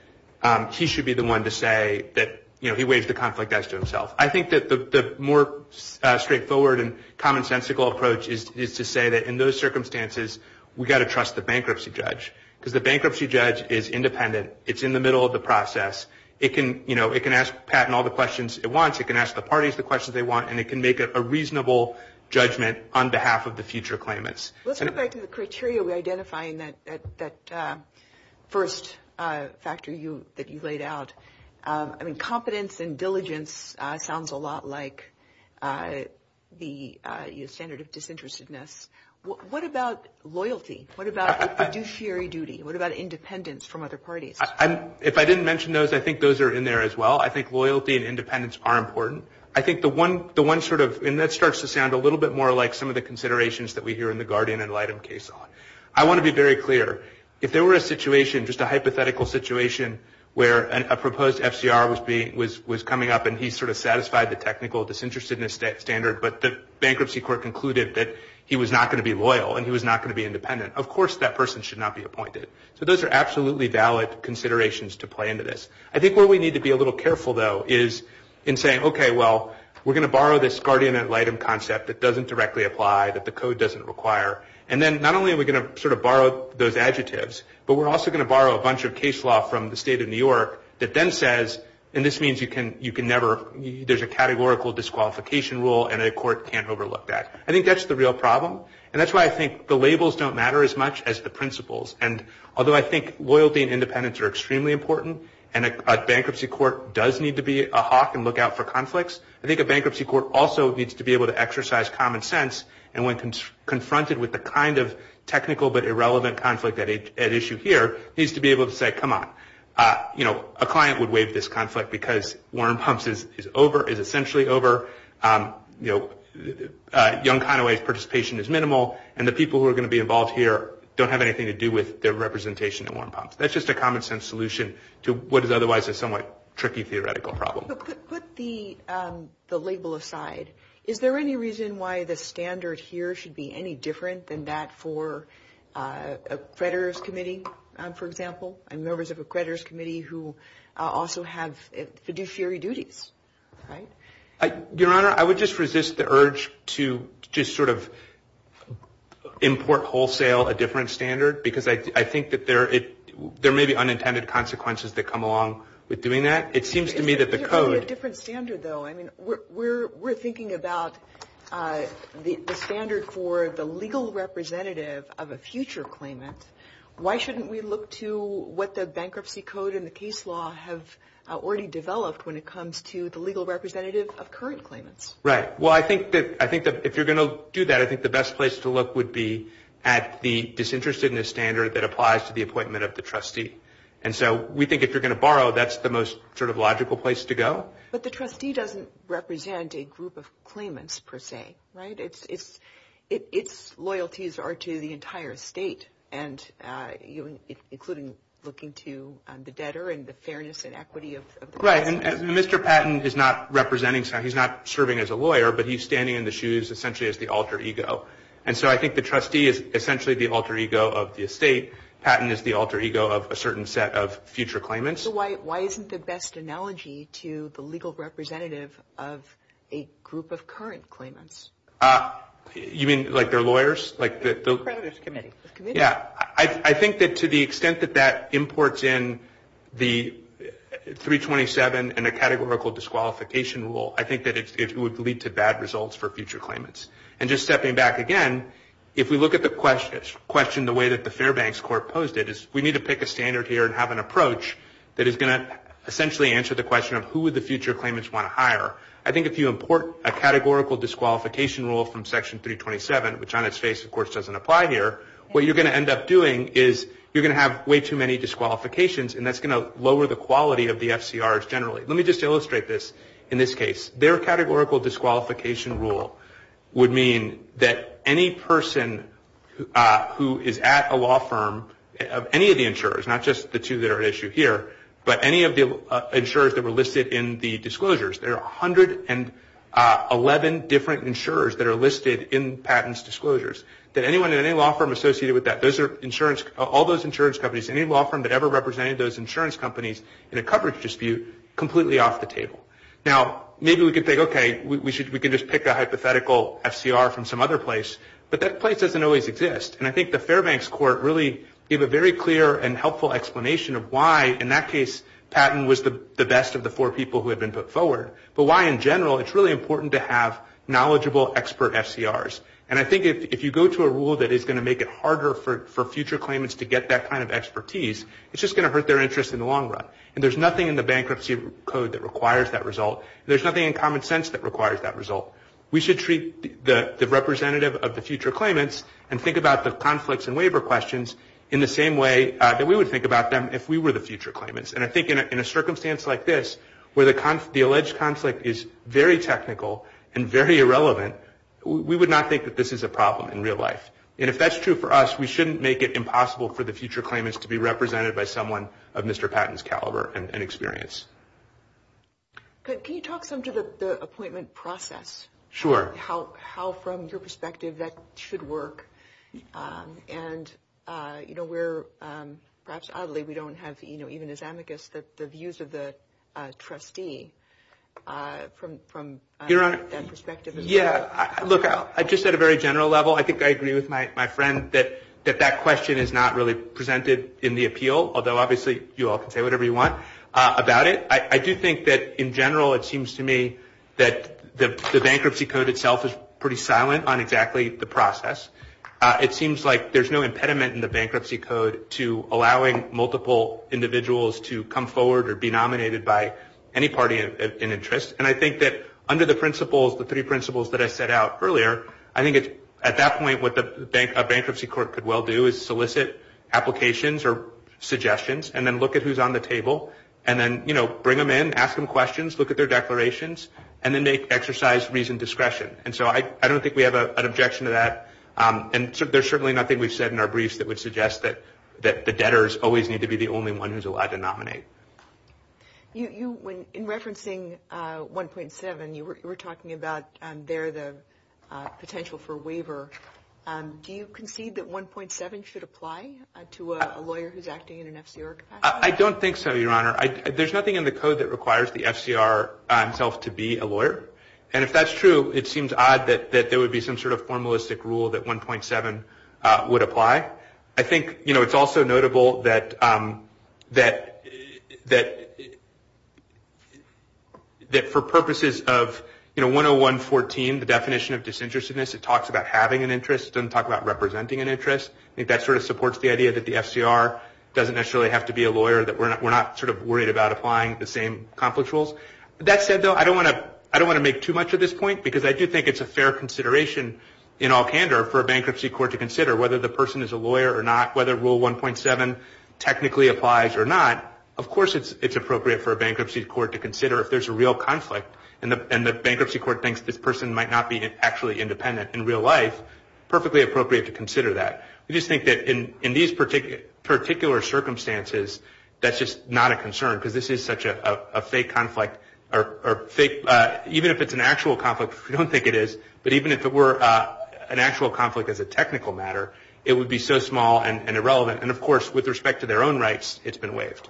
He should be the one to say that, you know, he waves the conflict guys to himself. I think that the more Straightforward and commonsensical approach is to say that in those circumstances We got to trust the bankruptcy judge because the bankruptcy judge is independent It's in the middle of the process It can you know It can ask Pat and all the questions at once it can ask the parties the questions they want and it can make it a reasonable Judgment on behalf of the future claimants. Let's go back to the criteria. We're identifying that that first Factor you that you laid out. I mean competence and diligence. It sounds a lot like The standard of disinterestedness What about loyalty? What about a fiduciary duty? What about independence from other parties? I'm if I didn't mention those I think those are in there as well. I think loyalty and independence are important I think the one the one sort of and that starts to sound a little bit more like some of the Considerations that we hear in the Guardian and light of case on I want to be very clear if there were a situation just a hypothetical Situation where a proposed FCR was being was was coming up and he sort of satisfied the technical disinterestedness that standard But the bankruptcy court concluded that he was not going to be loyal and he was not going to be independent Of course that person should not be appointed. So those are absolutely valid considerations to play into this I think what we need to be a little careful though is in saying, okay Well, we're going to borrow this Guardian and light of concept that doesn't directly apply that the code doesn't require and then not only we're Borrow a bunch of case law from the state of New York that then says and this means you can you can never There's a categorical disqualification rule and a court can't overlook that I think that's the real problem and that's why I think the labels don't matter as much as the principles and although I think Loyalty and independence are extremely important and a bankruptcy court does need to be a hawk and look out for conflicts I think a bankruptcy court also needs to be able to exercise common sense and when Confronted with the kind of technical but irrelevant conflict at issue here needs to be able to say come on You know a client would waive this conflict because Warren pumps is over is essentially over you know Young kind of ways participation is minimal and the people who are going to be involved here don't have anything to do with their Representation to one pump. That's just a common-sense solution to what is otherwise a somewhat tricky theoretical problem Put the the label aside. Is there any reason why the standard here should be any different than that for a creditors committee For example and members of a creditors committee who also have fiduciary duties Your honor I would just resist the urge to just sort of Import wholesale a different standard because I think that there it there may be unintended consequences that come along with doing that It seems to me that the code We're we're thinking about The standard for the legal representative of a future claimant why shouldn't we look to what the bankruptcy code in the case law have Already developed when it comes to the legal representative of current claimants, right? well I think that I think that if you're going to do that I think the best place to look would be at The disinterested in a standard that applies to the appointment of the trustee And so we think if you're going to borrow that's the most sort of logical place to go But the trustee doesn't represent a group of claimants per se, right? it's it's it's loyalties are to the entire state and You including looking to the debtor and the fairness and equity of right and mr. Patton is not representing So he's not serving as a lawyer, but he's standing in the shoes essentially as the alter ego And so I think the trustee is essentially the alter ego of the estate Patton is the alter ego of a certain set of future claimants Why why isn't the best analogy to the legal representative of a group of current claimants? You mean like their lawyers like this committee? Yeah, I think that to the extent that that imports in the 327 and a categorical disqualification rule I think that it would lead to bad results for future claimants and just stepping back again If we look at the questions question the way that the Fairbanks court posed it is we need to pick a standard here and have An approach that is going to essentially answer the question of who would the future claimants want to hire? I think if you import a categorical disqualification rule from section 327, which on its face, of course doesn't apply here What you're going to end up doing is you're going to have way too many disqualifications And that's going to lower the quality of the FCRs. Generally. Let me just illustrate this in this case their categorical disqualification rule Would mean that any person Who is at a law firm of any of the insurers not just the two that are at issue here? but any of the insurers that were listed in the disclosures there are a hundred and Eleven different insurers that are listed in patents disclosures that anyone in any law firm associated with that Those are insurance all those insurance companies any law firm that ever represented those insurance companies in a coverage dispute Completely off the table now, maybe we could think okay We should we can just pick a hypothetical FCR from some other place But that place doesn't always exist And I think the Fairbanks court really give a very clear and helpful explanation of why in that case Patton was the best of the four people who have been put forward but why in general it's really important to have knowledgeable expert FCRs And I think if you go to a rule that is going to make it harder for future claimants to get that kind of expertise It's just going to hurt their interest in the long run and there's nothing in the bankruptcy code that requires that result There's nothing in common sense that requires that result We should treat the the representative of the future claimants and think about the conflicts and waiver questions in the same way That we would think about them if we were the future claimants And I think in a circumstance like this where the con the alleged conflict is very technical and very irrelevant We would not think that this is a problem in real life And if that's true for us, we shouldn't make it impossible for the future claimants to be represented by someone of mr. Patton's caliber and experience But can you talk some to the appointment process sure how how from your perspective that should work and You know, we're perhaps oddly. We don't have you know, even as amicus that the views of the trustee from Your honor Yeah, look out. I just said a very general level I think I agree with my friend that that that question is not really presented in the appeal Although obviously you all can say whatever you want about it. I do think that in general It seems to me that the bankruptcy code itself is pretty silent on exactly the process It seems like there's no impediment in the bankruptcy code to allowing multiple Individuals to come forward or be nominated by any party in interest And I think that under the principles the three principles that I set out earlier I think it's at that point what the bank a bankruptcy court could well do is solicit applications or Suggestions and then look at who's on the table and then you know Bring them in ask them questions look at their declarations and then they exercise reason discretion And so I I don't think we have an objection to that And so there's certainly nothing we've said in our briefs that would suggest that The debtors always need to be the only one who's allowed to nominate You when in referencing 1.7 you were talking about there the potential for waiver Do you concede that 1.7 should apply to a lawyer who's acting in an FCR? I don't think so your honor I there's nothing in the code that requires the FCR Himself to be a lawyer and if that's true It seems odd that that there would be some sort of formalistic rule that 1.7 would apply I think you know, it's also notable that that that That for purposes of you know 10114 the definition of disinterestedness it talks about having an interest and talk about representing an interest If that sort of supports the idea that the FCR Doesn't necessarily have to be a lawyer that we're not we're not sort of worried about applying the same conflict rules That said though I don't want to I don't want to make too much at this point because I do think it's a fair consideration In all candor for a bankruptcy court to consider whether the person is a lawyer or not whether rule 1.7 Technically applies or not Of course It's it's appropriate for a bankruptcy court to consider if there's a real conflict and the bankruptcy court thinks this person might not be Actually independent in real life perfectly appropriate to consider that you just think that in in these particular particular circumstances That's just not a concern because this is such a fake conflict or fake Even if it's an actual conflict I don't think it is but even if it were An actual conflict as a technical matter, it would be so small and irrelevant and of course with respect to their own rights It's been waived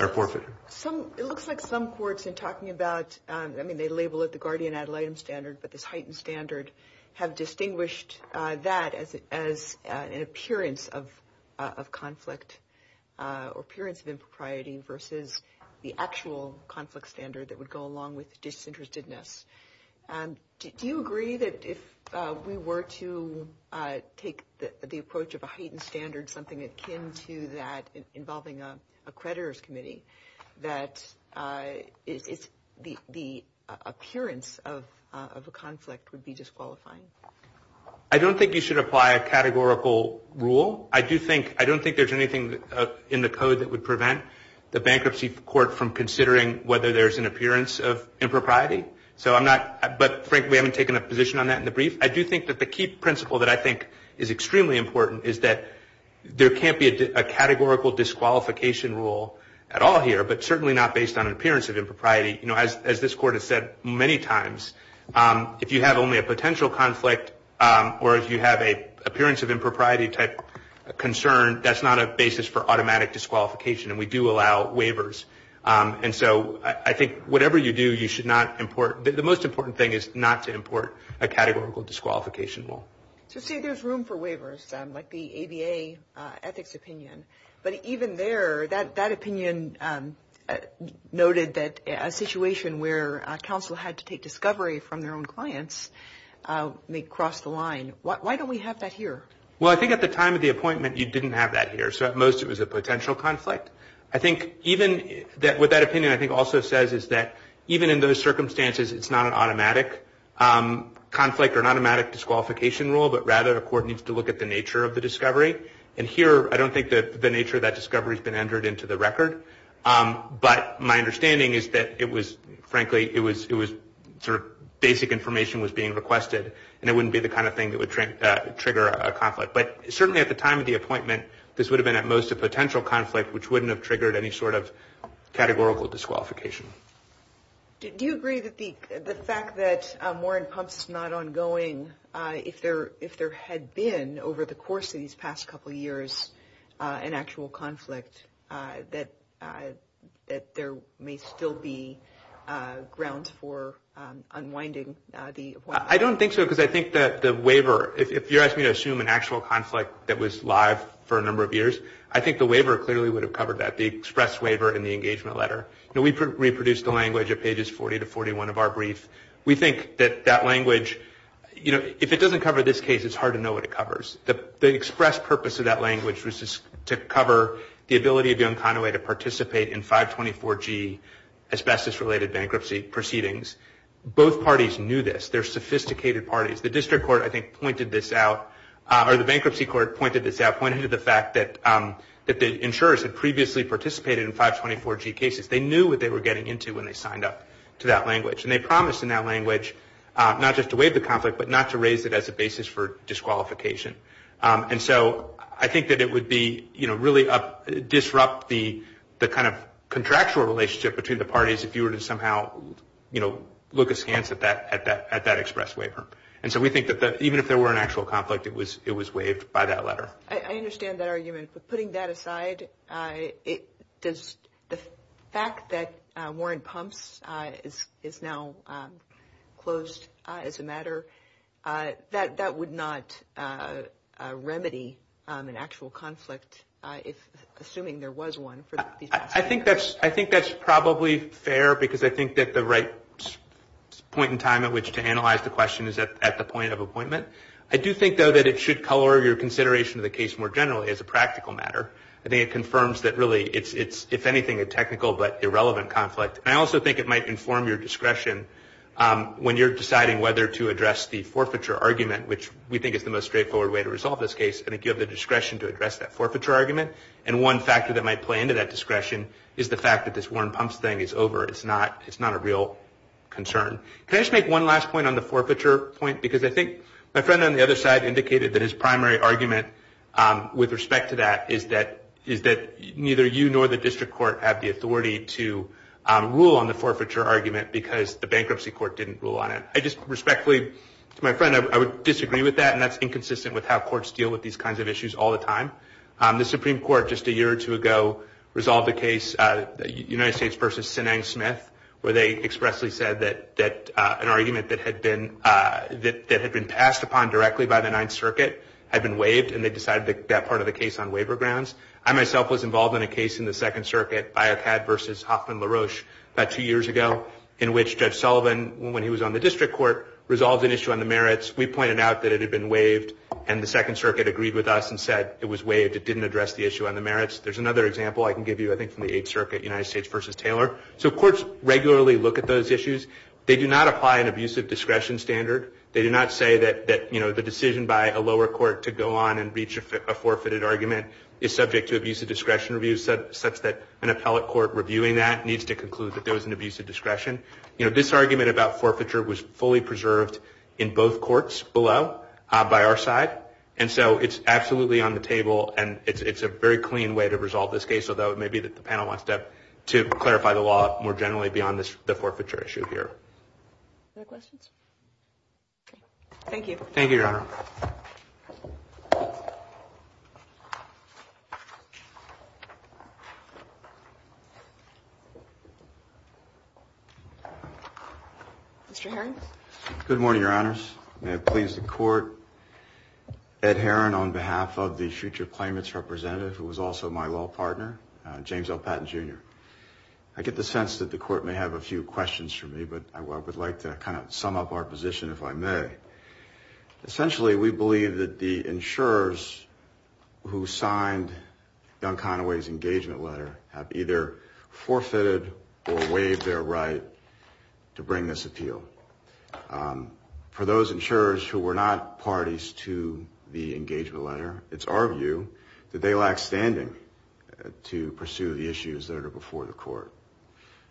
Or forfeit. So it looks like some courts and talking about I mean they label it the guardian ad litem standard But this heightened standard have distinguished that as an appearance of conflict Appearance of impropriety versus the actual conflict standard that would go along with disinterestedness Do you agree that if we were to? take the approach of a heightened standard something akin to that involving a creditors committee that The Appearance of a conflict would be disqualifying. I don't think you should apply a categorical rule I do think I don't think there's anything in the code that would prevent the bankruptcy court from considering whether there's an appearance of Impropriety, so I'm not but frankly, we haven't taken a position on that in the brief I do think that the key principle that I think is extremely important is that there can't be a categorical Disqualification rule at all here, but certainly not based on appearance of impropriety, you know, as this court has said many times If you have only a potential conflict or if you have a appearance of impropriety type Concern that's not a basis for automatic disqualification and we do allow waivers And so I think whatever you do, you should not import the most important thing is not to import a categorical disqualification rule So see there's room for waivers like the ABA ethics opinion, but even there that that opinion Noted that a situation where counsel had to take discovery from their own clients May cross the line. Why don't we have that here? Well, I think at the time of the appointment you didn't have that here. So at most it was a potential conflict I think even that what that opinion I think also says is that even in those circumstances, it's not an automatic Conflict or an automatic disqualification rule, but rather a court needs to look at the nature of the discovery and here I don't think that the nature of that discovery has been entered into the record But my understanding is that it was frankly It was it was sort of basic information was being requested and it wouldn't be the kind of thing that would Trigger a conflict but certainly at the time of the appointment this would have been at most a potential conflict which wouldn't have triggered any sort of categorical disqualification Did you agree that the the fact that Warren pumps is not ongoing? If there if there had been over the course of these past couple years an actual conflict that that there may still be grounds for Unwinding the I don't think so because I think that the waiver if you're asking to assume an actual conflict That was live for a number of years I think the waiver clearly would have covered that the express waiver in the engagement letter You know, we could reproduce the language of pages 40 to 41 of our brief. We think that that language You know if it doesn't cover this case It's hard to know what it covers the express purpose of that language was just to cover the ability to do in kind of way to participate in 524 G asbestos related bankruptcy proceedings Both parties knew this they're sophisticated parties the district court I think pointed this out or the bankruptcy court pointed this out pointed to the fact that That the insurers had previously participated in 524 G cases They knew what they were getting into when they signed up to that language and they promised in that language Not just to waive the conflict but not to raise it as a basis for disqualification and so I think that it would be you know, really a Disrupt the the kind of contractual relationship between the parties if you were to somehow You know look askance at that at that at that express waiver And so we think that that even if there were an actual conflict it was it was waived by that letter I understand that argument, but putting that aside It does the fact that Warren pumps is now Closed it's a matter that that would not Remedy an actual conflict. It's assuming there was one. I think that's I think that's probably fair because I think that the right Point in time at which to analyze the question is that at the point of appointment? I do think though that it should color your consideration of the case more generally as a practical matter I think it confirms that really it's it's if anything a technical but irrelevant conflict I also think it might inform your discretion When you're deciding whether to address the forfeiture argument which we think it's the most straightforward way to resolve this case and if you have the discretion to address that forfeiture argument and One factor that might play into that discretion is the fact that this Warren pumps thing is over. It's not it's not a real Concern. Let's make one last point on the forfeiture point because I think my friend on the other side indicated that his primary argument with respect to that is that is that neither you nor the district court have the authority to Rule on the forfeiture argument because the bankruptcy court didn't rule on it. I just respectfully my friend I would disagree with that and that's inconsistent with how courts deal with these kinds of issues all the time The Supreme Court just a year or two ago Resolved the case United States versus Sinai Smith where they expressly said that that an argument that had been That had been passed upon directly by the Ninth Circuit Had been waived and they decided that part of the case on waiver grounds I myself was involved in a case in the Second Circuit I have had versus Hoffman LaRoche about two years ago in which judge Sullivan when he was on the district court Resolved an issue on the merits We pointed out that it had been waived and the Second Circuit agreed with us and said it was waived It didn't address the issue on the merits. There's another example I can give you I think from the Eighth Circuit United States versus Taylor. So courts regularly look at those issues They do not apply an abusive discretion standard They do not say that that, you know The decision by a lower court to go on and reach a forfeited argument is subject to abuse of discretion Reviews that such that an appellate court reviewing that needs to conclude that there was an abuse of discretion You know this argument about forfeiture was fully preserved in both courts below by our side And so it's absolutely on the table and it's a very clean way to resolve this case Although it may be that the panel wants up to clarify the law more generally beyond this the forfeiture issue here Thank you, thank you Good morning, your honors. May it please the court Ed Heron on behalf of the future claimants representative who was also my law partner James L Patton jr I get the sense that the court may have a few questions for me But I would like to kind of sum up our position if I may Essentially, we believe that the insurers Who signed? young Conway's engagement letter have either Forfeited or waived their right to bring this appeal For those insurers who were not parties to the engagement letter. It's our view that they lack standing To pursue the issues that are before the court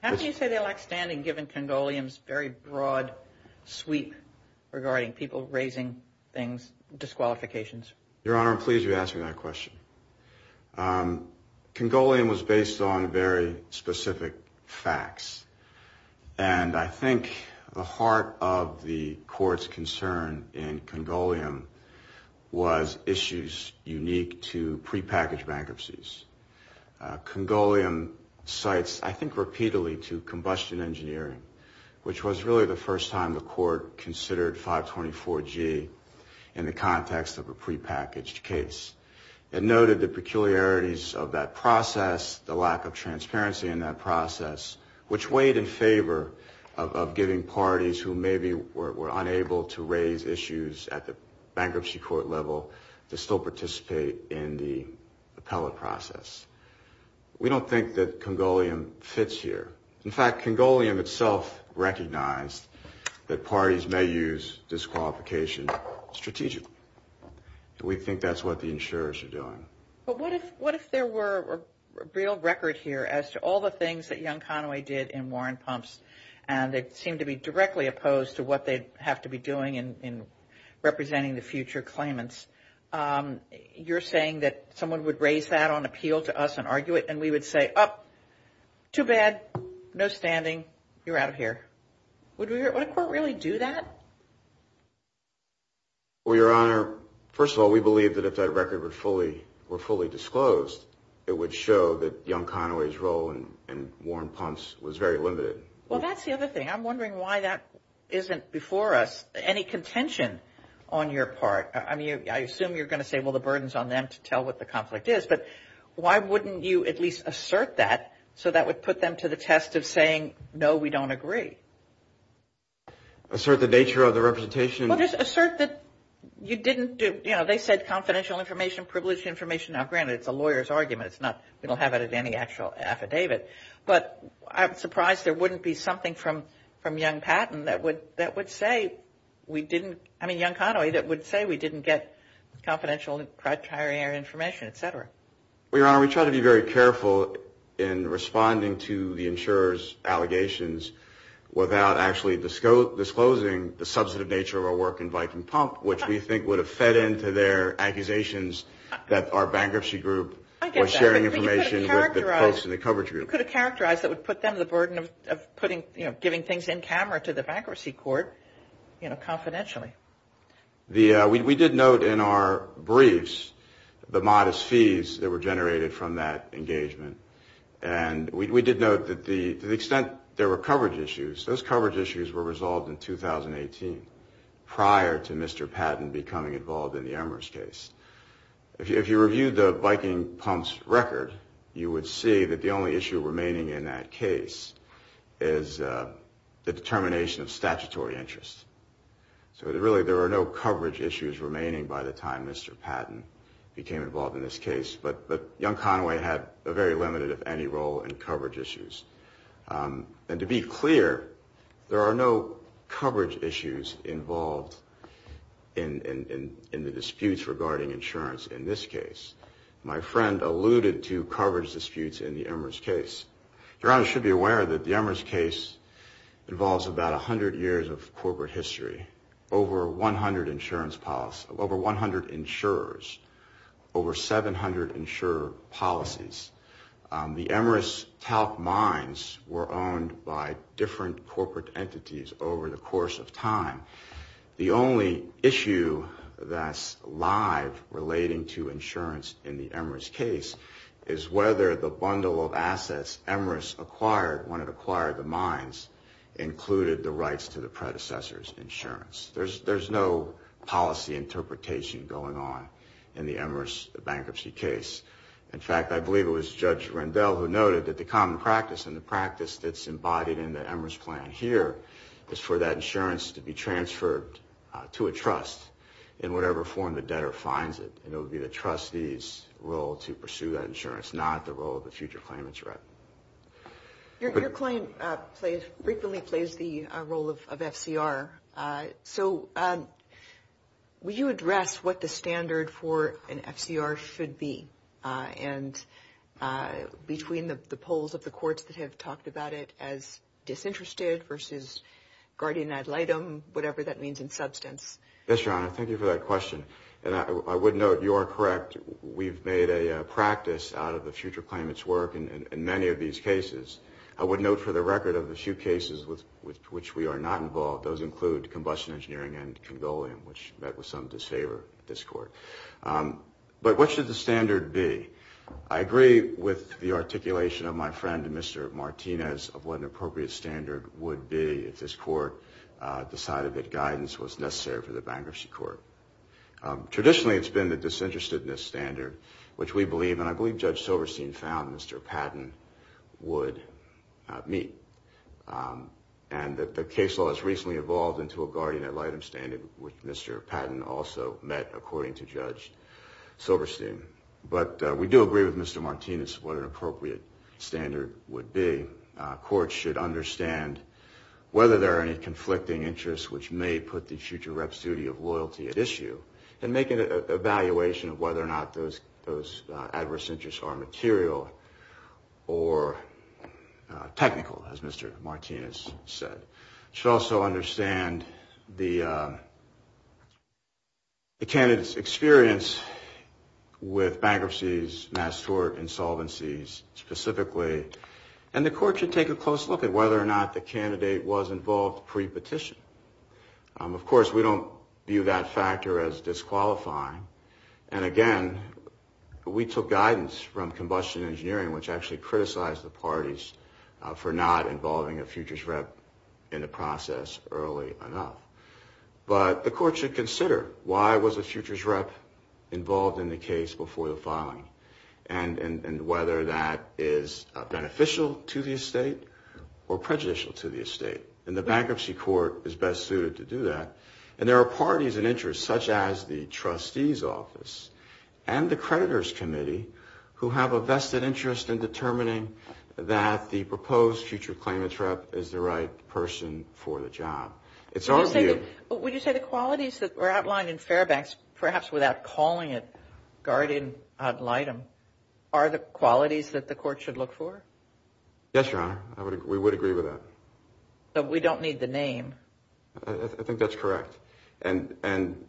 How do you say they like standing given Congolians very broad sweep Regarding people raising things Disqualifications your honor. I'm pleased you asked me that question Congolian was based on very specific facts and I think the heart of the courts concern in Congolian Was issues unique to prepackaged bankruptcies? Congolian cites, I think repeatedly to combustion engineering Which was really the first time the court considered 524 G in the context of a prepackaged case And noted the peculiarities of that process the lack of transparency in that process which weighed in favor of giving parties who maybe were unable to raise issues at the bankruptcy court level to still participate in the Teleprocess We don't think that Congolian fits here. In fact Congolian itself recognized that parties may use disqualification strategically We think that's what the insurers are doing. Well, what if what if there were? Real records here as to all the things that young Conway did in Warren pumps And they seem to be directly opposed to what they have to be doing in representing the future claimants You're saying that someone would raise that on appeal to us and argue it and we would say up Too bad no standing you're out of here. What do you really do that? Well, your honor first of all, we believe that if that record would fully were fully disclosed It would show that young Conway's role and and Warren punts was very limited. Well, that's the other thing I'm wondering why that isn't before us any contention on your part I mean, I assume you're going to say well the burdens on them to tell what the conflict is But why wouldn't you at least assert that so that would put them to the test of saying? No, we don't agree Assert the nature of the representation assert that you didn't do, you know, they said confidential information privileged information now granted It's a lawyer's argument. It's not we don't have it as any actual affidavit But I'm surprised there wouldn't be something from from young patent that would that would say We didn't I mean young Conway that would say we didn't get Confidential and correct hiring air information, etc. We are we try to be very careful in responding to the insurers allegations Without actually the scope disclosing the substantive nature of our work in Viking pump Which do you think would have fed into their accusations that our bankruptcy group was sharing information with the folks in the coverage? We're going to characterize that would put them the burden of putting you know, giving things in camera to the bankruptcy court You know confidentially the we did note in our briefs the modest fees that were generated from that engagement and We did note that the extent there were coverage issues those coverage issues were resolved in 2018 Prior to mr. Patton becoming involved in the embers case if you reviewed the Viking pumps record, you would see that the only issue remaining in that case is The determination of statutory interests So really there are no coverage issues remaining by the time. Mr Patton became involved in this case, but but young Conway had a very limited of any role in coverage issues And to be clear there are no coverage issues involved in In the disputes regarding insurance in this case My friend alluded to coverage disputes in the embers case Geronimo should be aware that the embers case Involves about a hundred years of corporate history over 100 insurance policy over 100 insurers over 700 insurer policies The embers talc mines were owned by different corporate entities over the course of time the only issue that's live relating to insurance in the embers case is Whether the bundle of assets embers acquired when it acquired the mines Included the rights to the predecessors insurance. There's there's no Policy interpretation going on in the embers the bankruptcy case In fact, I believe it was judge Randell who noted that the common practice and the practice that's embodied in the embers plan here Is for that insurance to be transferred to a trust in whatever form the debtor finds it Trustees will to pursue that insurance not the role of the future claimants, right? Your claim plays frequently plays the role of FCR. I so would you address what the standard for an FCR should be and Between the polls of the courts that have talked about it as disinterested versus Guardian ad litem, whatever that means in substance. Yes, your honor. Thank you for that question I would note you are correct. We've made a practice out of the future claimants work and in many of these cases I would note for the record of the few cases with which we are not involved those include combustion engineering and Condolium which that was some to savor this court But what should the standard be? I agree with the articulation of my friend. Mr Martinez of what an appropriate standard would be if his court Decided that guidance was necessary for the bankruptcy court Traditionally, it's been the disinterestedness standard which we believe and I believe judge Silverstein found. Mr. Patton would meet And that the case law has recently evolved into a guardian ad litem standard with mr. Patton also met according to judge Silverstein, but we do agree with mr. Martinez what an appropriate standard would be courts should understand Whether there are any conflicting interests which may put the future reps duty of loyalty at issue and make an evaluation of whether or not those those adverse interests are material or Technical as mr. Martinez said should also understand the Attendance experience with bankruptcies mass tort insolvencies Specifically and the court should take a close look at whether or not the candidate was involved pre-petition Of course, we don't view that factor as disqualifying and again We took guidance from combustion engineering which actually criticized the parties For not involving a futures rep in the process early enough But the court should consider why was a futures rep? Involved in the case before the filing and and and whether that is beneficial to the estate or prejudicial to the estate and the bankruptcy court is best suited to do that and there are parties and interests such as the trustees office and the creditors committee who have a vested interest in determining that The proposed future claimant rep is the right person for the job It's our view, but would you say the qualities that were outlined in Fairbanks perhaps without calling it Guardian item are the qualities that the court should look for Yes, your honor. I would we would agree with that So we don't need the name. I think that's correct. And and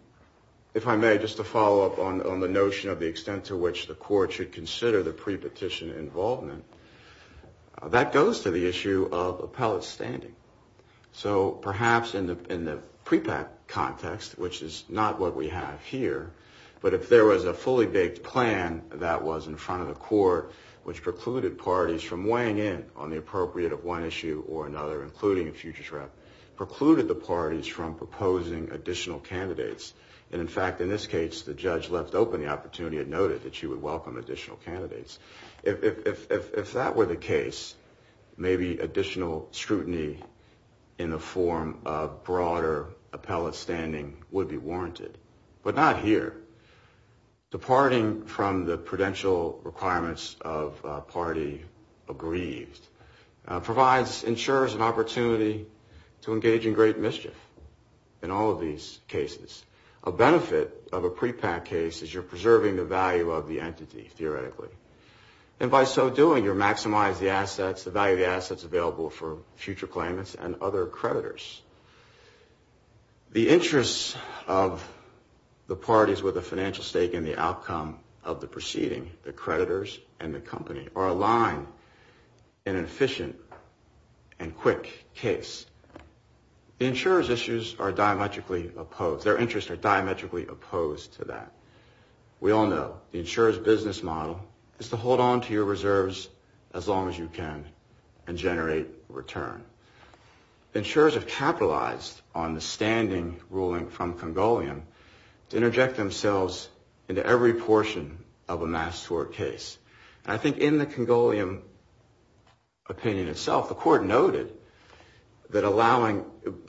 If I may just to follow up on the notion of the extent to which the court should consider the pre-petition involvement That goes to the issue of appellate standing So perhaps in the in the prepack context, which is not what we have here But if there was a fully baked plan that was in front of the court Which precluded parties from weighing in on the appropriate of one issue or another including a futures rep? precluded the parties from proposing additional candidates and in fact in this case the judge left open the opportunity and noted that she would welcome additional candidates if That were the case Maybe additional scrutiny in a form of broader appellate standing would be warranted But not here departing from the prudential requirements of party aggrieved provides insurers an opportunity to engage in great mischief in all of these cases a Reserving the value of the entity theoretically and by so doing your maximize the assets the value of the assets available for future claimants and other creditors the interest of the parties with a financial stake in the outcome of the proceeding the creditors and the company are aligned an efficient and quick case Insurers issues are diametrically opposed their interest are diametrically opposed to that We all know the insurers business model is to hold on to your reserves as long as you can and generate return insurers have capitalized on the standing ruling from Congolian to Interject themselves into every portion of a mass tort case. I think in the Congolian opinion itself the court noted That allowing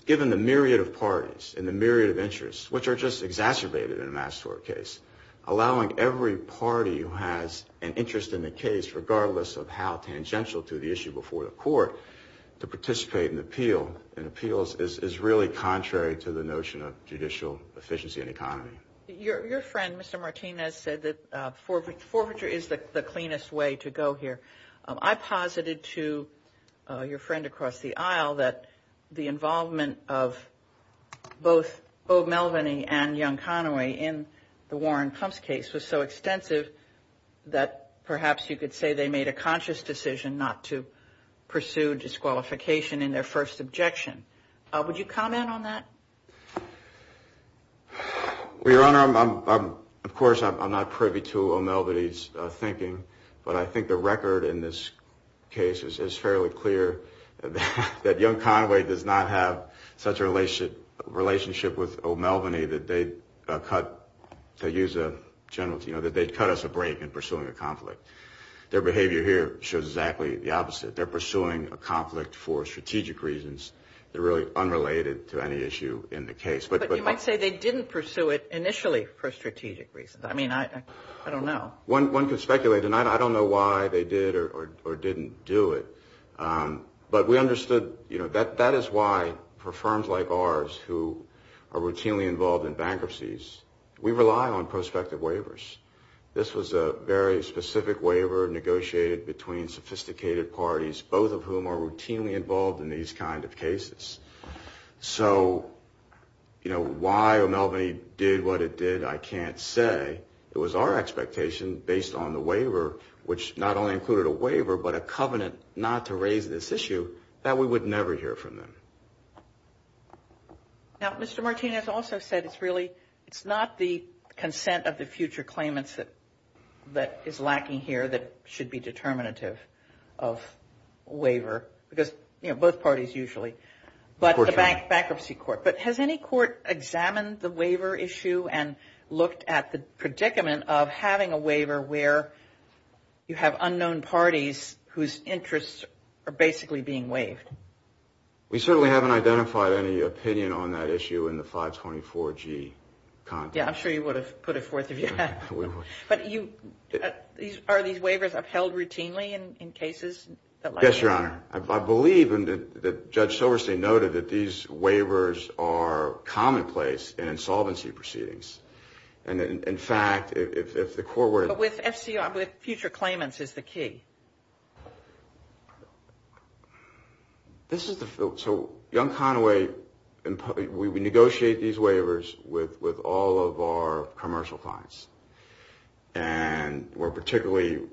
given the myriad of parties in the myriad of interests, which are just exacerbated in a mass tort case Allowing every party who has an interest in the case regardless of how tangential to the issue before the court To participate in appeal and appeals is really contrary to the notion of judicial efficiency and economy your friend Mr. Martinez said that for forfeiture is the cleanest way to go here. I posited to your friend across the aisle that the involvement of Both both Melvin II and young Conway in the Warren clumps case was so extensive That perhaps you could say they made a conscious decision not to pursue disqualification in their first objection Would you comment on that? We run our mom, of course, I'm not privy to all Melvin ease thinking but I think the record in this Case is fairly clear That young Conway does not have such a relationship relationship with old Melvin a that they cut To use a general, you know that they'd cut us a break in pursuing a conflict their behavior here shows exactly the opposite They're pursuing a conflict for strategic reasons. They're really unrelated to any issue in the case But you might say they didn't pursue it initially for strategic reasons I mean, I I don't know one one can speculate and I don't know why they did or didn't do it But we understood, you know that that is why for firms like ours who are routinely involved in bankruptcies We rely on prospective waivers This was a very specific waiver negotiated between sophisticated parties both of whom are routinely involved in these kind of cases so You know why or Melvin II did what it did I can't say it was our expectation based on the waiver which not only included a waiver But a covenant not to raise this issue that we would never hear from them Now, mr Martinez also said it's really it's not the consent of the future claimants that that is lacking here that should be determinative of Waiver because you know both parties usually but we're back bankruptcy court but has any court examined the waiver issue and looked at the predicament of having a waiver where You have unknown parties whose interests are basically being waived We certainly haven't identified any opinion on that issue in the 524 G Yeah, I'm sure you would have put it forth. Yeah but you These are these waivers are held routinely and in cases. Yes, your honor I believe in the judge Silverstein noted that these waivers are commonplace and insolvency proceedings and In fact if the core with FCR with future claimants is the key This is so young Conway and we negotiate these waivers with with all of our commercial clients and We're particularly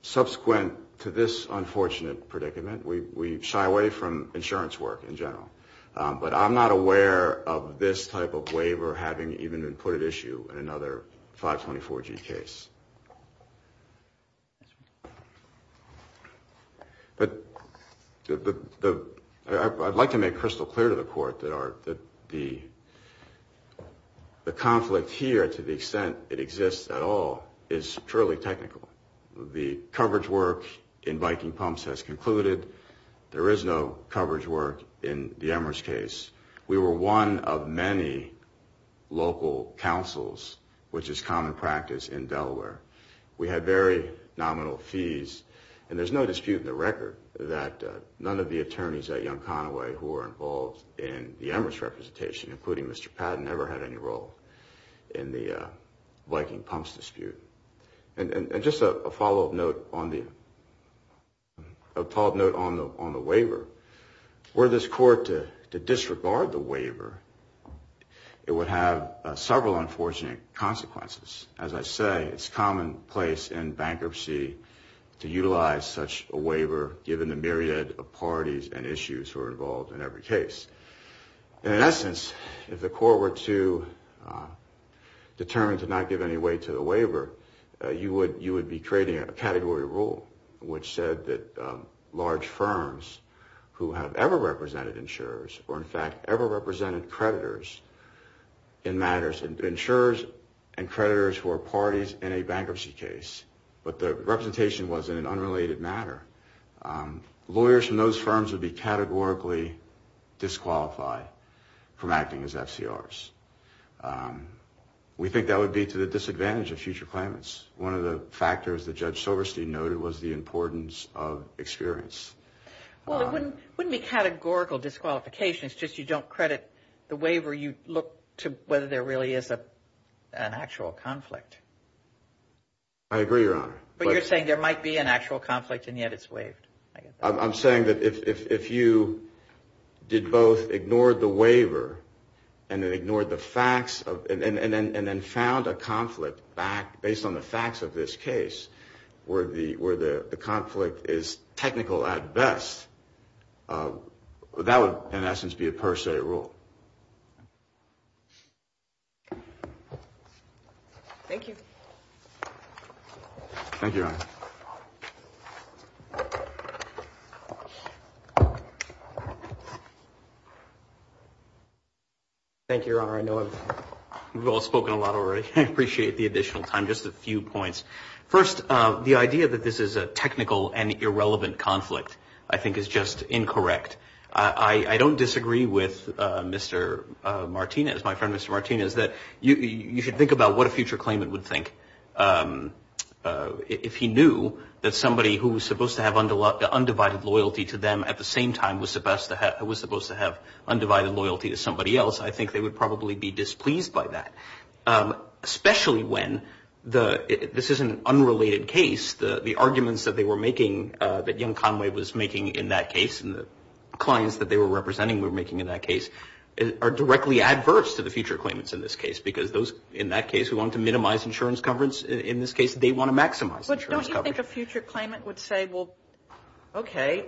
Subsequent to this unfortunate predicament. We shy away from insurance work in general But I'm not aware of this type of waiver having even been put at issue in another 524 G case But the I'd like to make crystal clear to the court that are that the The conflict here to the extent it exists at all is purely technical The coverage work in Viking pumps has concluded there is no coverage work in the Emirates case We were one of many Local councils, which is common practice in Delaware We had very nominal fees and there's no dispute in the record that None of the attorneys that young Conway who are involved in the Emirates representation including. Mr. Pat never had any role in the Viking pumps dispute and just a follow-up note on the Pop note on the on the waiver or this court to disregard the waiver It would have several unfortunate consequences As I say, it's commonplace in bankruptcy To utilize such a waiver given the myriad of parties and issues who are involved in every case and in essence if the court were to Determine to not give any weight to the waiver You would you would be creating a category rule which said that large firms Who have ever represented insurers or in fact ever represented creditors? In matters and insurers and creditors who are parties in a bankruptcy case, but the representation was in an unrelated matter Lawyers from those firms would be categorically disqualified from acting as FCRs We think that would be to the disadvantage of future clients one of the factors that judge Silverstein noted was the importance of experience Well wouldn't wouldn't be categorical disqualification. It's just you don't credit the waiver. You look to whether there really is a natural conflict I Agree wrong, but you're saying there might be an actual conflict and yet it's waived. I'm saying that if you Did both ignored the waiver and it ignored the facts of and then and then found a conflict back Based on the facts of this case Where the where the conflict is technical at best But that would in essence be a per se rule Thank you, thank you Thank You're all I know We've all spoken a lot already appreciate the additional time just a few points first The idea that this is a technical and irrelevant conflict. I think is just incorrect. I I don't disagree with Mr. Martinez my friend. Mr. Martinez that you should think about what a future claimant would think If he knew that somebody who was supposed to have under a lot the undivided loyalty to them at the same time was the best That was supposed to have undivided loyalty to somebody else. I think they would probably be displeased by that especially when the this is an unrelated case the the arguments that they were making that young Conway was making in that case and the Clients that they were representing were making in that case Are directly adverse to the future claimants in this case because those in that case we want to minimize insurance coverage in this case They want to maximize A future claimant would say well Okay,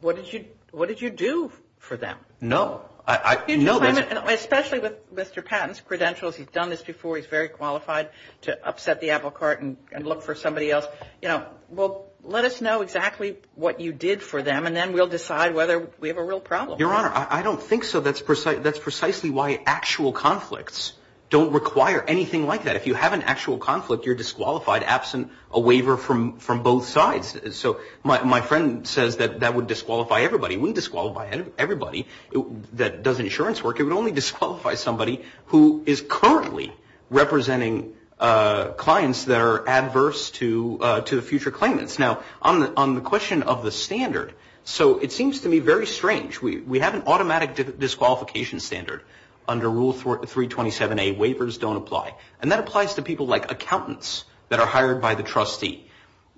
what did you what did you do for them? No, I know that especially with mr. Patton's credentials He's done this before he's very qualified to upset the apple carton and look for somebody else, you know Well, let us know exactly what you did for them and then we'll decide whether we have a real problem your honor I don't think so That's precisely that's precisely why actual conflicts don't require anything like that If you have an actual conflict you're disqualified absent a waiver from from both sides So my friend said that that would disqualify everybody wouldn't disqualify everybody that doesn't insurance work It would only disqualify somebody who is currently representing Clients that are adverse to to the future claimants now on the question of the standard So it seems to me very strange. We we have an automatic Disqualification standard under rule for 327 a waivers don't apply and that applies to people like accountants that are hired by the trustee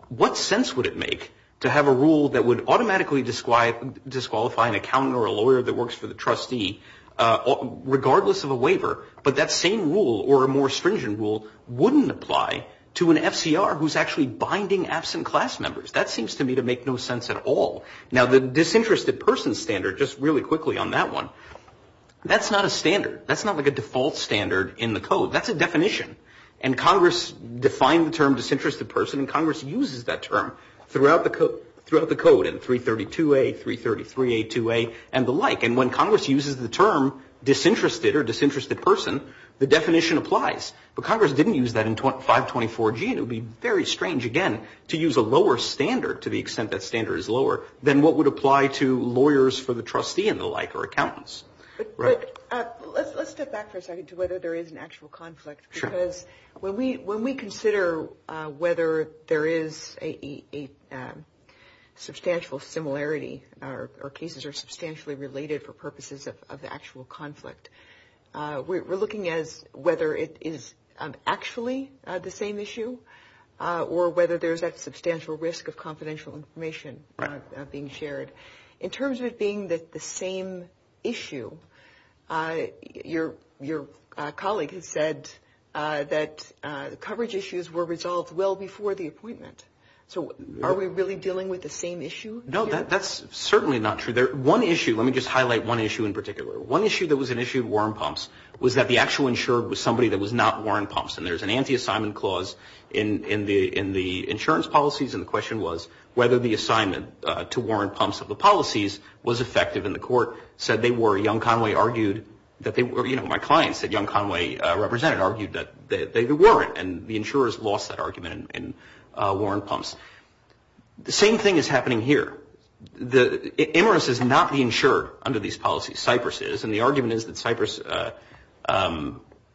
What sense would it make to have a rule that would automatically describe disqualify an accountant or a lawyer that works for the trustee? Regardless of a waiver, but that same rule or a more stringent rule wouldn't apply to an FCR Who's actually binding absent class members that seems to me to make no sense at all Now the disinterested person standard just really quickly on that one That's not a standard. That's not like a default standard in the code That's a definition and Congress defined the term disinterested person and Congress uses that term throughout the code throughout the code in 332 a 333 a 2a and the like and when Congress uses the term Disinterested or disinterested person the definition applies, but Congress didn't use that in 25 24 gene It would be very strange again to use a lower standard to the extent that standard is lower than what would apply to lawyers for the trustee and the like or accountants When we when we consider whether there is a Substantial similarity our cases are substantially related for purposes of the actual conflict We're looking at whether it is Actually the same issue Or whether there's that substantial risk of confidential information Being shared in terms of being that the same issue Your your colleague has said That the coverage issues were resolved well before the appointment. So are we really dealing with the same issue? No, that's certainly not true there one issue Let me just highlight one issue in particular one issue that was an issue of warm pumps Was that the actual insured was somebody that was not Warren pumps and there's an anti-assignment clause in In the in the insurance policies and the question was whether the assignment to Warren pumps of the policies was effective in the court Said they were young Conway argued that they were, you know My client said young Conway represented argued that they weren't and the insurers lost that argument in Warren pumps The same thing is happening here The Emirates is not being sure under these policies Cyprus is and the argument is that Cyprus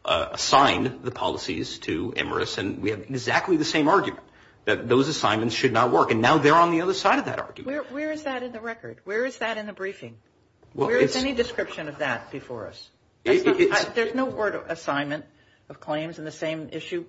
Assign the policies to Emirates and we have exactly the same argument that those assignments should not work and now they're on the other side of that Where is that in the record? Where is that in the briefing? Well, it's any description of that before us. Thank you. There's no order assignment of claims in the same issue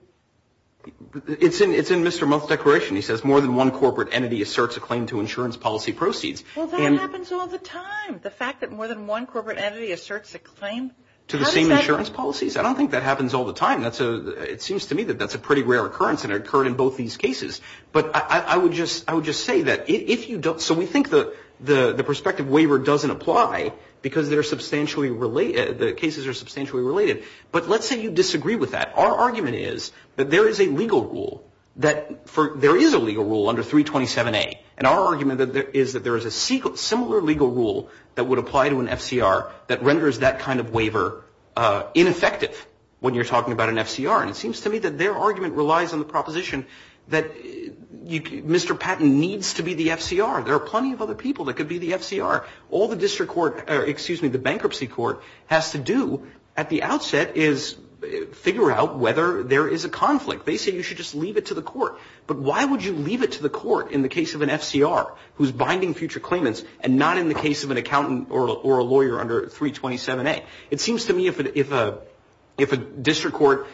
It's in it's in mr. Most decoration he says more than one corporate entity asserts a claim to insurance policy proceeds The fact that more than one corporate entity asserts a claim to the same insurance policies I don't think that happens all the time That's a it seems to me that that's a pretty rare occurrence and occurred in both these cases But I would just I would just say that if you don't so we think the the the prospective waiver doesn't apply Because they're substantially related the cases are substantially related But let's say you disagree with that Our argument is that there is a legal rule that for there is a legal rule under 327 a and our argument that there is that there is a sequel similar legal rule that would apply to an FCR that renders that kind of waiver Ineffective when you're talking about an FCR and it seems to me that their argument relies on the proposition that You can mr. Patton needs to be the FCR There are plenty of other people that could be the FCR all the district court Excuse me, the bankruptcy court has to do at the outset is Figure out whether there is a conflict. They say you should just leave it to the court but why would you leave it to the court in the case of an FCR who's binding future claimants and not in the case of an accountant or a lawyer under 327 a it seems to me if it if a if a district court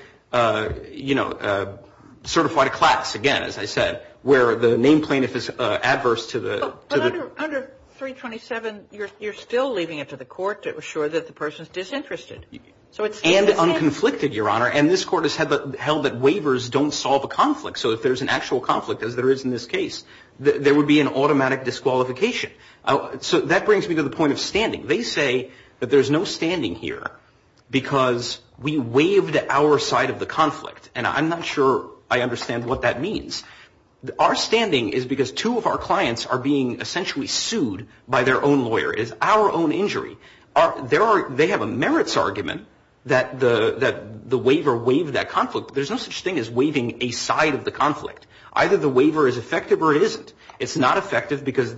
you know Certified a class again as I said where the name plaintiff is adverse to the 327 you're still leaving it to the court. It was sure that the person is disinterested So it's and the unconflicted your honor and this court has had the held that waivers don't solve a conflict So if there's an actual conflict as there is in this case, there would be an automatic disqualification Oh, so that brings me to the point of standing. They say that there's no standing here Because we waived at our side of the conflict and I'm not sure I understand what that means Our standing is because two of our clients are being essentially sued by their own lawyer is our own injury Are there are they have a merits argument that the that the waiver waived that conflict? There's no such thing as waiving a side of the conflict. Either the waiver is effective or it isn't It's not effective because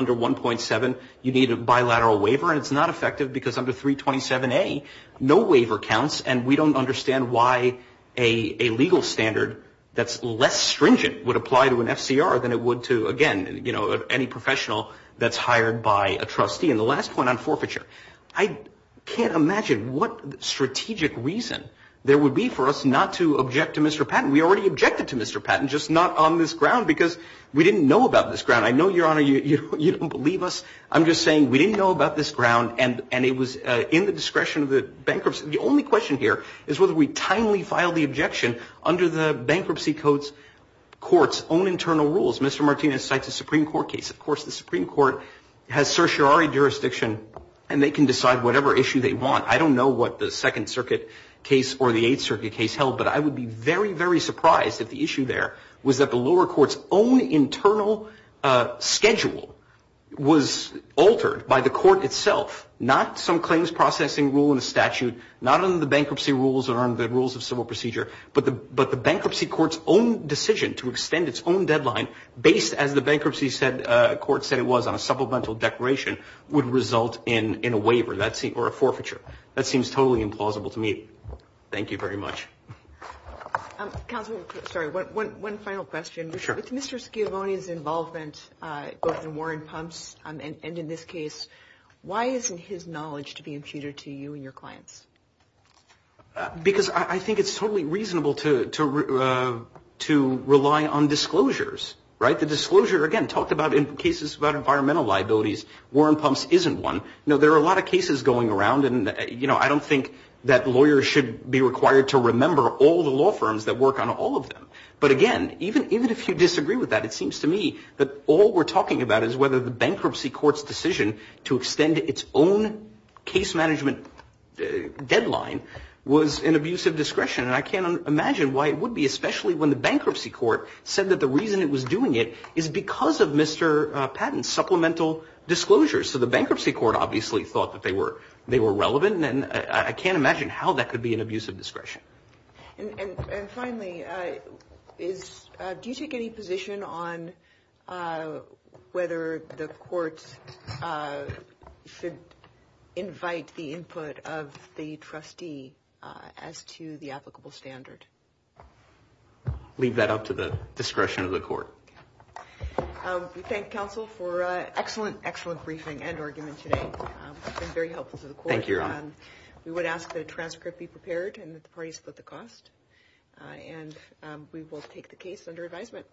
under 1.7. You need a bilateral waiver it's not effective because under 327 a no waiver counts and we don't understand why a Legal standard that's less stringent would apply to an FCR than it would to again, you know any professional that's hired by a trustee in the last one on forfeiture, I Can't imagine what? Strategic reason there would be for us not to object to mr. Patton. We already objected to mr Patton just not on this ground because we didn't know about this ground. I know your honor. You don't believe us I'm just saying we didn't know about this ground and and it was in the discretion of the bankruptcy The only question here is whether we kindly filed the objection under the bankruptcy codes Courts own internal rules. Mr. Martinez cite the Supreme Court case Of course, the Supreme Court has certiorari jurisdiction and they can decide whatever issue they want I don't know what the Second Circuit case or the Eighth Circuit case held But I would be very very surprised at the issue. There was that the lower courts only internal schedule Was altered by the court itself not some claims processing rule in the statute Not only the bankruptcy rules are under the rules of civil procedure but the but the bankruptcy courts own decision to extend its own deadline based as the bankruptcy said Courts that it was on a supplemental declaration would result in in a waiver. That's it or a forfeiture That seems totally implausible to me. Thank you very much Sorry, what one final question sure, it's mr. Schiavone is involvement Warren pumps and in this case, why isn't his knowledge to be intruded to you and your clients? Because I think it's totally reasonable to To rely on disclosures, right the disclosure again talked about in cases about environmental liabilities We're in pumps isn't one now There are a lot of cases going around and you know I don't think that lawyers should be required to remember all the law firms that work on all of them But again, even if you disagree with that It seems to me that all we're talking about is whether the bankruptcy courts decision to extend its own case management Deadline was an abusive discretion and I can't imagine why it would be especially when the bankruptcy court said that the reason it was doing It is because of mr. Patton supplemental disclosures So the bankruptcy court obviously thought that they were they were relevant and then I can't imagine how that could be an abusive discretion Do you take any position on Whether the court Invite the input of the trustee as to the applicable standard Leave that up to the discretion of the court We thank counsel for a excellent excellent briefing and argument today We would ask the transcript be prepared and the parties put the cost and we will take the case under advisement